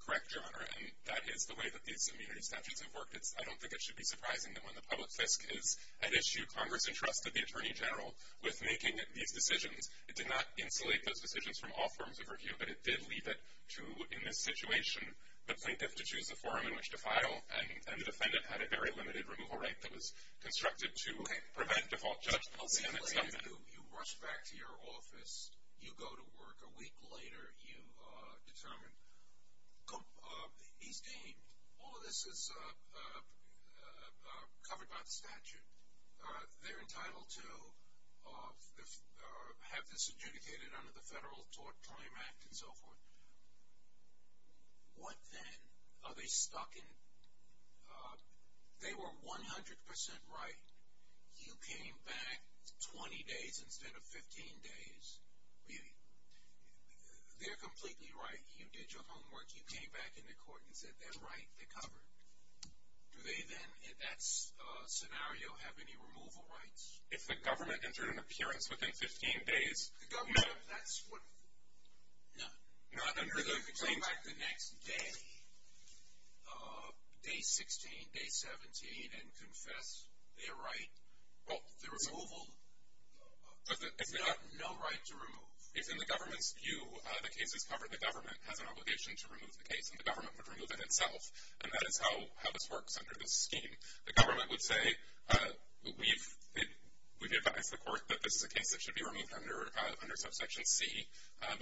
Correct, Your Honor, and that is the way that these immunity statutes have worked. I don't think it should be surprising that when the public fisc is at issue, Congress entrusted the Attorney General with making these decisions. It did not insulate those decisions from all forms of review, but it did leave it to, in this situation, the plaintiff to choose a forum in which to file, and the defendant had a very limited removal right that was constructed to prevent default judgment and stuff like that. You rush back to your office. You go to work. A week later, you determine he's deemed. All of this is covered by the statute. They're entitled to have this adjudicated under the Federal Tort Claim Act and so forth. What then? Are they stuck in? They were 100% right. You came back 20 days instead of 15 days. They're completely right. You did your homework. You came back into court and said they're right. They're covered. Do they then, in that scenario, have any removal rights? If the government entered an appearance within 15 days, no. No. If they come back the next day, day 16, day 17, and confess they're right, the removal, there's no right to remove. If, in the government's view, the case is covered, the government has an obligation to remove the case, and the government would remove it itself, and that is how this works under this scheme. The government would say, we've advised the court that this is a case that should be removed under Subsection C. I'm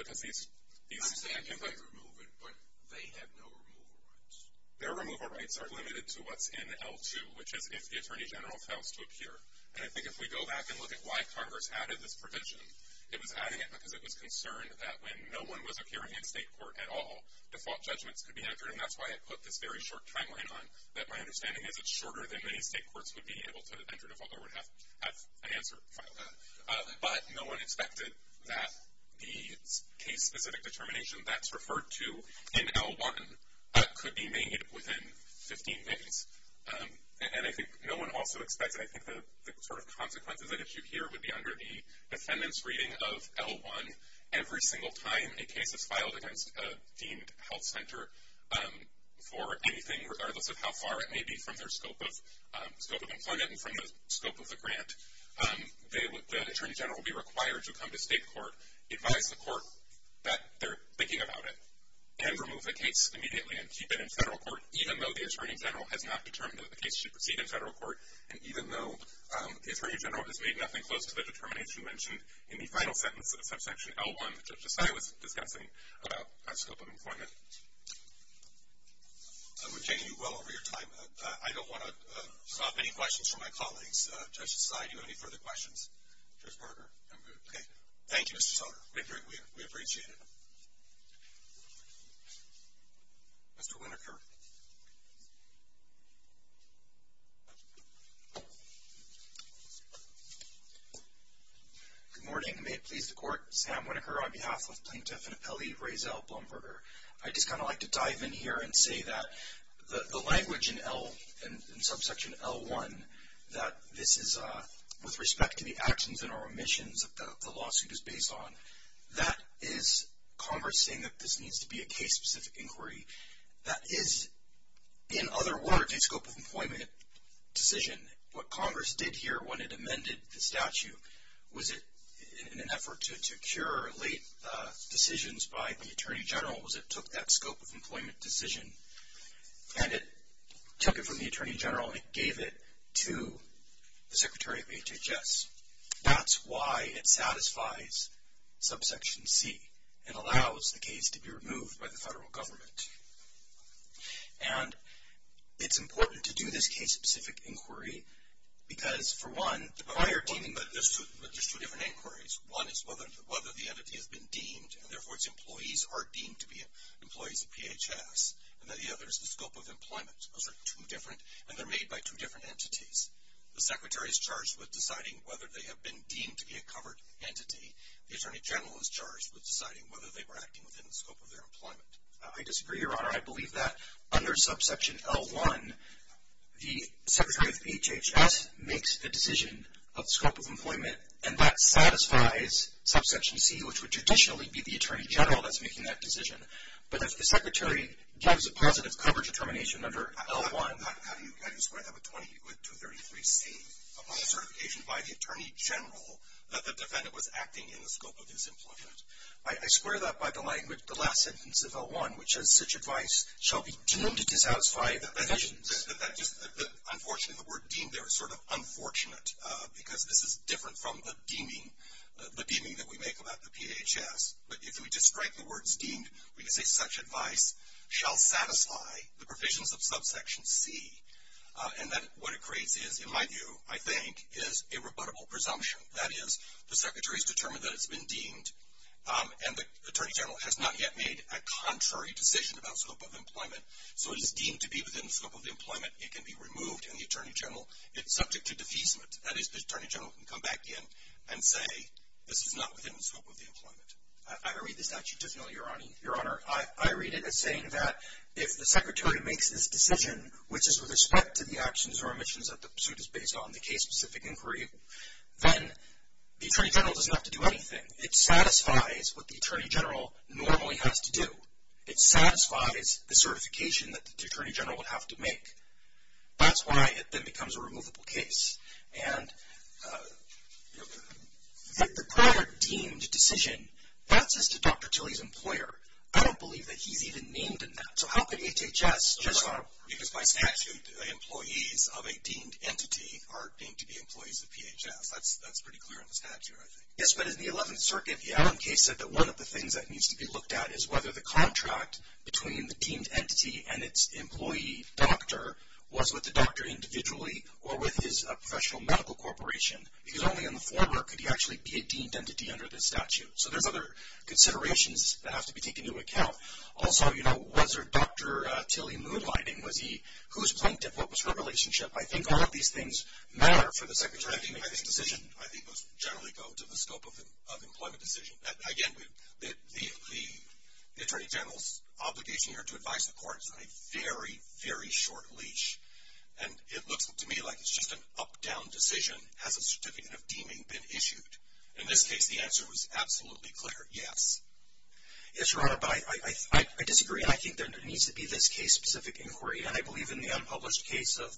saying you might remove it, but they have no removal rights. Their removal rights are limited to what's in L2, which is if the Attorney General fails to appear. And I think if we go back and look at why Congress added this provision, it was adding it because it was concerned that when no one was appearing in state court at all, default judgments could be entered, and that's why it put this very short timeline on, that my understanding is it's shorter than many state courts would be able to enter default or would have an answer filed on. But no one expected that the case-specific determination that's referred to in L1 could be made within 15 days. And I think no one also expected, I think the sort of consequences at issue here would be under the defendant's reading of L1. Every single time a case is filed against a deemed health center for anything, regardless of how far it may be from their scope of employment and from the scope of the grant, the Attorney General will be required to come to state court, advise the court that they're thinking about it, and remove the case immediately and keep it in federal court, even though the Attorney General has not determined that the case should proceed in federal court, and even though the Attorney General has made nothing close to the determination mentioned in the final sentence of Subsection L1 that Judge Desai was discussing about our scope of employment. We've taken you well over your time. I don't want to stop any questions from my colleagues. Judge Desai, do you have any further questions? Judge Berger? I'm good. Okay. Thank you, Mr. Sutter. We appreciate it. Thank you. Mr. Winokur? Good morning. May it please the Court, Sam Winokur on behalf of Plaintiff and Appellee Raizel Blumberger. I'd just kind of like to dive in here and say that the language in L, in Subsection L1, that this is with respect to the actions and our omissions that the lawsuit is based on, that is Congress saying that this needs to be a case-specific inquiry. That is, in other words, a scope of employment decision. What Congress did here when it amended the statute, was it in an effort to cure late decisions by the Attorney General, was it took that scope of employment decision and it took it from the Attorney General and it gave it to the Secretary of HHS. That's why it satisfies Subsection C and allows the case to be removed by the federal government. And it's important to do this case-specific inquiry because, for one, the prior team... But there's two different inquiries. One is whether the entity has been deemed, and therefore its employees are deemed to be employees of PHS. And the other is the scope of employment. Those are two different, and they're made by two different entities. The Secretary is charged with deciding whether they have been deemed to be a covered entity. The Attorney General is charged with deciding whether they were acting within the scope of their employment. I disagree, Your Honor. I believe that under Subsection L1, the Secretary of HHS makes the decision of scope of employment, and that satisfies Subsection C, which would traditionally be the Attorney General that's making that decision. But if the Secretary gives a positive cover determination under L1... How do you square that with 233C, upon certification by the Attorney General that the defendant was acting in the scope of his employment? I square that by the last sentence of L1, which says, Such advice shall be deemed to satisfy the provisions... Unfortunately, the word deemed there is sort of unfortunate because this is different from the deeming that we make about the PHS. But if we just strike the words deemed, we can say, Such advice shall satisfy the provisions of Subsection C. And then what it creates is, in my view, I think, is a rebuttable presumption. That is, the Secretary has determined that it's been deemed, and the Attorney General has not yet made a contrary decision about scope of employment, so it is deemed to be within the scope of the employment. It can be removed, and the Attorney General is subject to defeasement. That is, the Attorney General can come back in and say, This is not within the scope of the employment. I read the statute differently, Your Honor. I read it as saying that if the Secretary makes this decision, which is with respect to the actions or omissions that the suit is based on, the case-specific inquiry, then the Attorney General doesn't have to do anything. It satisfies what the Attorney General normally has to do. It satisfies the certification that the Attorney General would have to make. That's why it then becomes a removable case. And the prior deemed decision, that's just a Dr. Tilley's employer. I don't believe that he's even named in that. So how could HHS just not? Because by statute, employees of a deemed entity are deemed to be employees of PHS. That's pretty clear in the statute, I think. Yes, but in the 11th Circuit, the Adam case said that one of the things that needs to be looked at is whether the contract between the deemed entity and its employee doctor was with the doctor individually or with his professional medical corporation. Because only in the foreword could he actually be a deemed entity under this statute. So there's other considerations that have to be taken into account. Also, you know, was there Dr. Tilley moonlighting? Was he? Who's plaintiff? What was her relationship? I think all of these things matter for the Secretary to make this decision. I think those generally go to the scope of the employment decision. Again, the Attorney General's obligation here to advise the court is on a very, very short leash. And it looks to me like it's just an up-down decision. Has a certificate of deeming been issued? In this case, the answer was absolutely clear, yes. Yes, Your Honor, but I disagree. And I think there needs to be this case-specific inquiry. And I believe in the unpublished case of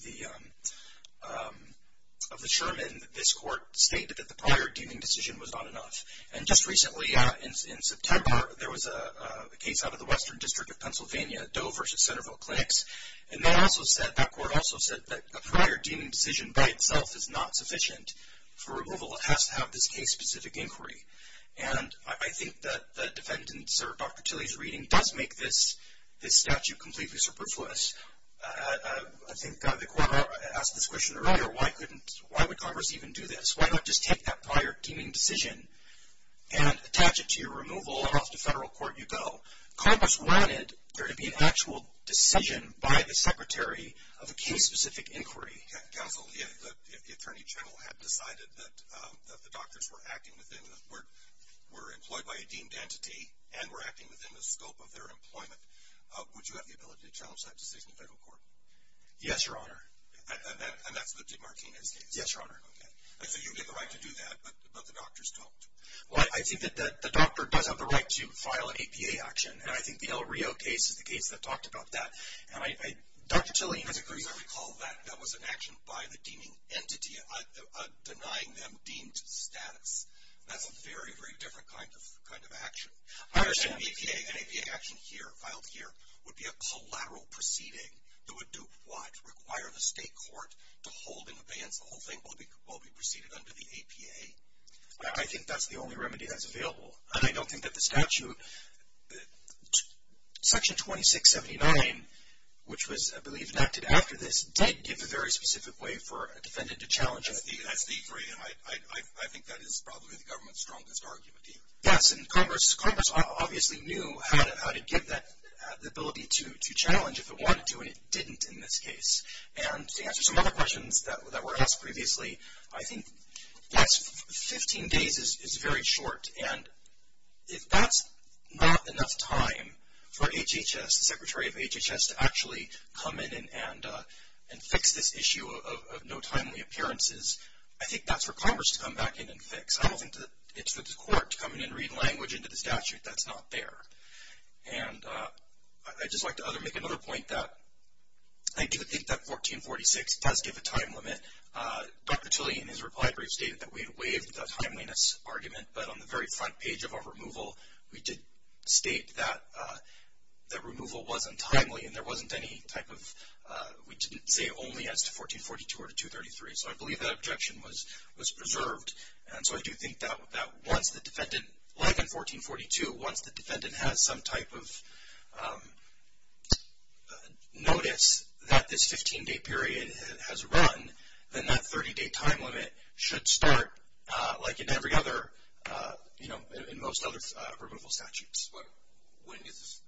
the Sherman, this court stated that the prior deeming decision was not enough. And just recently, in September, there was a case out of the Western District of Pennsylvania, Doe v. Centerville Clinics. And that court also said that a prior deeming decision by itself is not sufficient for removal. It has to have this case-specific inquiry. And I think that the defendant's or Dr. Tilley's reading does make this statute completely superfluous. I think the court asked this question earlier, why would Congress even do this? Why not just take that prior deeming decision and attach it to your removal, and off to federal court you go? Congress wanted there to be an actual decision by the secretary of a case-specific inquiry. Counsel, if the Attorney General had decided that the doctors were employed by a deemed entity and were acting within the scope of their employment, would you have the ability to challenge that decision in federal court? Yes, Your Honor. And that's the DeMartini's case? Yes, Your Honor. Okay. And so you get the right to do that, but the doctors don't. Well, I think that the doctor does have the right to file an APA action, and I think the El Rio case is the case that talked about that. And Dr. Tilley has a great example. I recall that. That was an action by the deeming entity denying them deemed status. That's a very, very different kind of action. I understand an APA action here, filed here, would be a collateral proceeding. It would do what? Require the state court to hold in abeyance. The whole thing will be proceeded under the APA. I think that's the only remedy that's available. And I don't think that the statute, Section 2679, which was, I believe, enacted after this, did give a very specific way for a defendant to challenge it. That's the inquiry, and I think that is probably the government's strongest argument here. Yes, and Congress obviously knew how to give that ability to challenge if it wanted to, and it didn't in this case. And to answer some other questions that were asked previously, I think 15 days is very short, and if that's not enough time for HHS, the Secretary of HHS, to actually come in and fix this issue of no timely appearances, I think that's for Congress to come back in and fix. I don't think it's for the court to come in and read language into the statute that's not there. And I'd just like to make another point that I do think that 1446 does give a time limit. Dr. Tilly, in his reply brief, stated that we had waived the timeliness argument, but on the very front page of our removal, we did state that removal wasn't timely and there wasn't any type of, we didn't say only as to 1442 or to 233. So I believe that objection was preserved, and so I do think that once the defendant, like in 1442, once the defendant has some type of notice that this 15-day period has run, then that 30-day time limit should start like in every other, you know, in most other removal statutes. But when does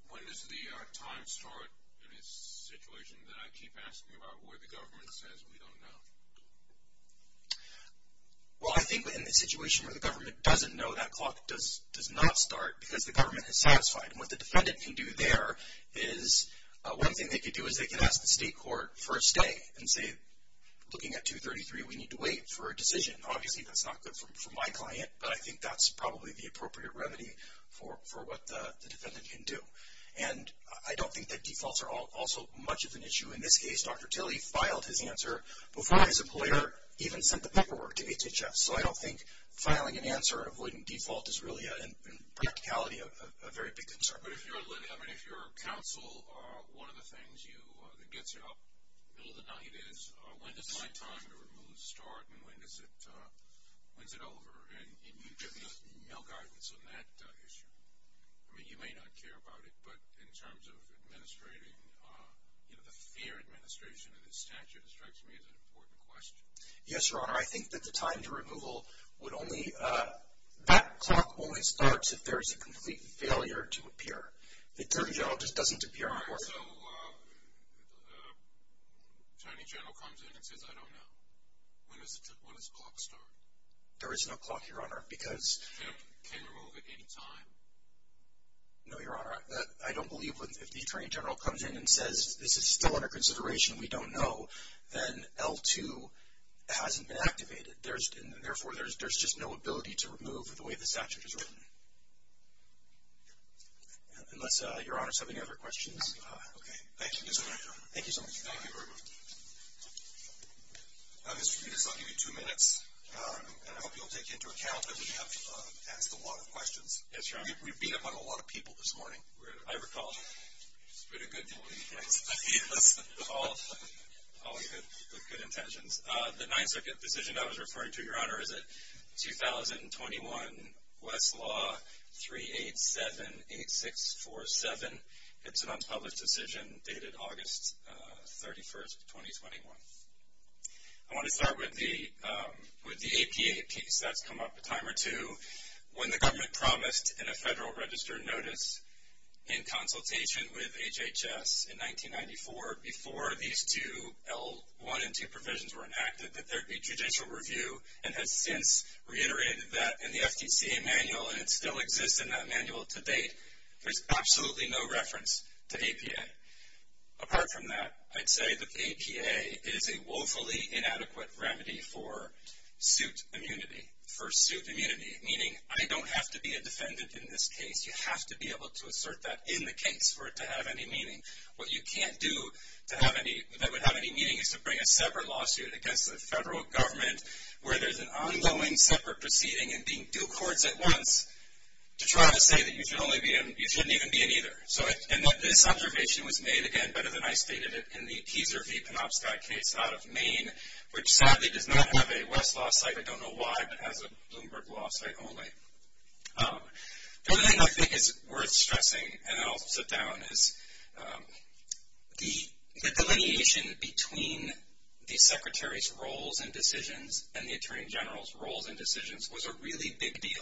the time start in this situation that I keep asking about, where the government says we don't know? Well, I think in the situation where the government doesn't know, that clock does not start because the government is satisfied. And what the defendant can do there is, one thing they can do is they can ask the state court first day and say, looking at 233, we need to wait for a decision. Obviously, that's not good for my client, but I think that's probably the appropriate remedy for what the defendant can do. And I don't think that defaults are also much of an issue. In this case, Dr. Tilly filed his answer before his employer even sent the paperwork to HHS. So I don't think filing an answer and avoiding default is really, in practicality, a very big concern. But if you're a counsel, one of the things that gets you up in the middle of the night is, when is my time to remove start, and when is it over? And you give me no guidance on that issue. I mean, you may not care about it, but in terms of administrating, the fair administration of this statute strikes me as an important question. Yes, Your Honor. I think that the time to removal would only, that clock only starts if there is a complete failure to appear. The Attorney General just doesn't appear on court. So Attorney General comes in and says, I don't know. When does the clock start? There is no clock, Your Honor, because the statute can remove at any time. No, Your Honor. I don't believe that if the Attorney General comes in and says, this is still under consideration, we don't know, then L-2 hasn't been activated. Therefore, there's just no ability to remove the way the statute is written. Unless Your Honor has any other questions. Okay. Thank you, Mr. Attorney General. Thank you so much. Thank you very much. Mr. Peters, I'll give you two minutes. I hope you'll take into account that we have asked a lot of questions. Yes, Your Honor. We've been among a lot of people this morning. I recall. It's been a good meeting, thanks. All good intentions. The Ninth Circuit decision I was referring to, Your Honor, is it 2021 Westlaw 3878647. It's an unpublished decision dated August 31st, 2021. I want to start with the APA piece. That's come up a time or two. When the government promised in a Federal Register notice in consultation with HHS in 1994, before these two L-1 and L-2 provisions were enacted, that there would be judicial review, and has since reiterated that in the FDCA manual, and it still exists in that manual to date. There's absolutely no reference to APA. Apart from that, I'd say the APA is a woefully inadequate remedy for suit immunity. For suit immunity, meaning I don't have to be a defendant in this case. You have to be able to assert that in the case for it to have any meaning. What you can't do that would have any meaning is to bring a separate lawsuit against the federal government where there's an ongoing separate proceeding and being due courts at once to try to say that you shouldn't even be in either. This observation was made, again, better than I stated it in the Pizer v. Penobscot case out of Maine, which sadly does not have a West law site. I don't know why, but it has a Bloomberg law site only. The other thing I think is worth stressing, and then I'll sit down, is the delineation between the Secretary's roles and decisions and the Attorney General's roles and decisions was a really big deal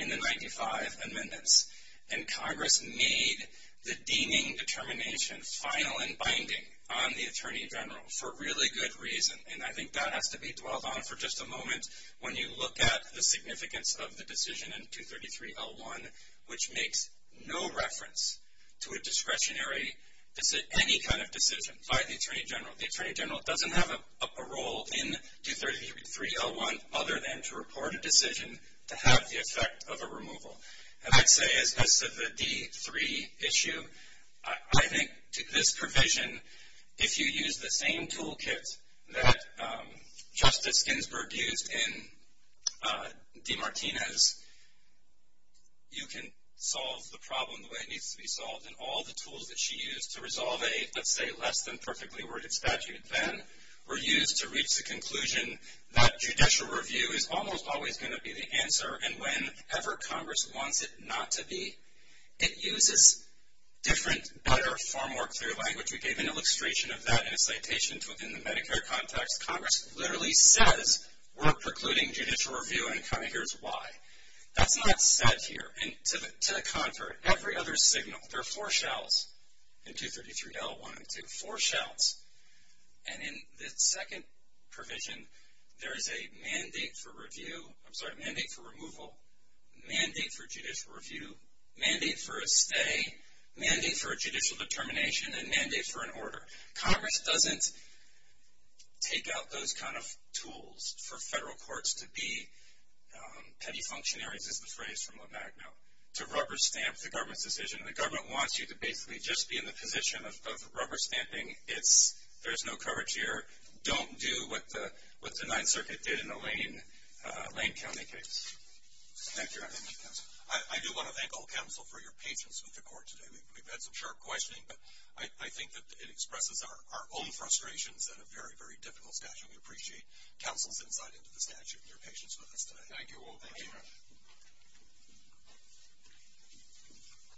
in the 1995 amendments. And Congress made the deeming determination final and binding on the Attorney General for really good reason. And I think that has to be dwelled on for just a moment when you look at the significance of the decision in 233-L1, which makes no reference to a discretionary any kind of decision by the Attorney General. The Attorney General doesn't have a role in 233-L1 other than to report a decision to have the effect of a removal. And I'd say, as to the D-3 issue, I think to this provision, if you use the same toolkit that Justice Ginsburg used in DeMartinez, you can solve the problem the way it needs to be solved, and all the tools that she used to resolve a, let's say, less than perfectly worded statute then, were used to reach the conclusion that judicial review is almost always going to be the answer, and whenever Congress wants it not to be, it uses different, better, far more clear language. We gave an illustration of that in a citation within the Medicare context. Congress literally says we're precluding judicial review, and kind of here's why. That's not said here. And to the contrary, every other signal, there are four shells in 233-L1. And in the second provision, there is a mandate for removal, mandate for judicial review, mandate for a stay, mandate for a judicial determination, and mandate for an order. Congress doesn't take out those kind of tools for federal courts to be petty functionaries, is the phrase from the back note, to rubber stamp the government's decision. The government wants you to basically just be in the position of rubber stamping, there's no coverage here, don't do what the Ninth Circuit did in the Lane County case. Thank you, Your Honor. Thank you, counsel. I do want to thank all counsel for your patience with the court today. We've had some sharp questioning, but I think that it expresses our own frustrations and a very, very difficult statute. We appreciate counsel's insight into the statute and your patience with us today. Thank you all. Thank you, Your Honor.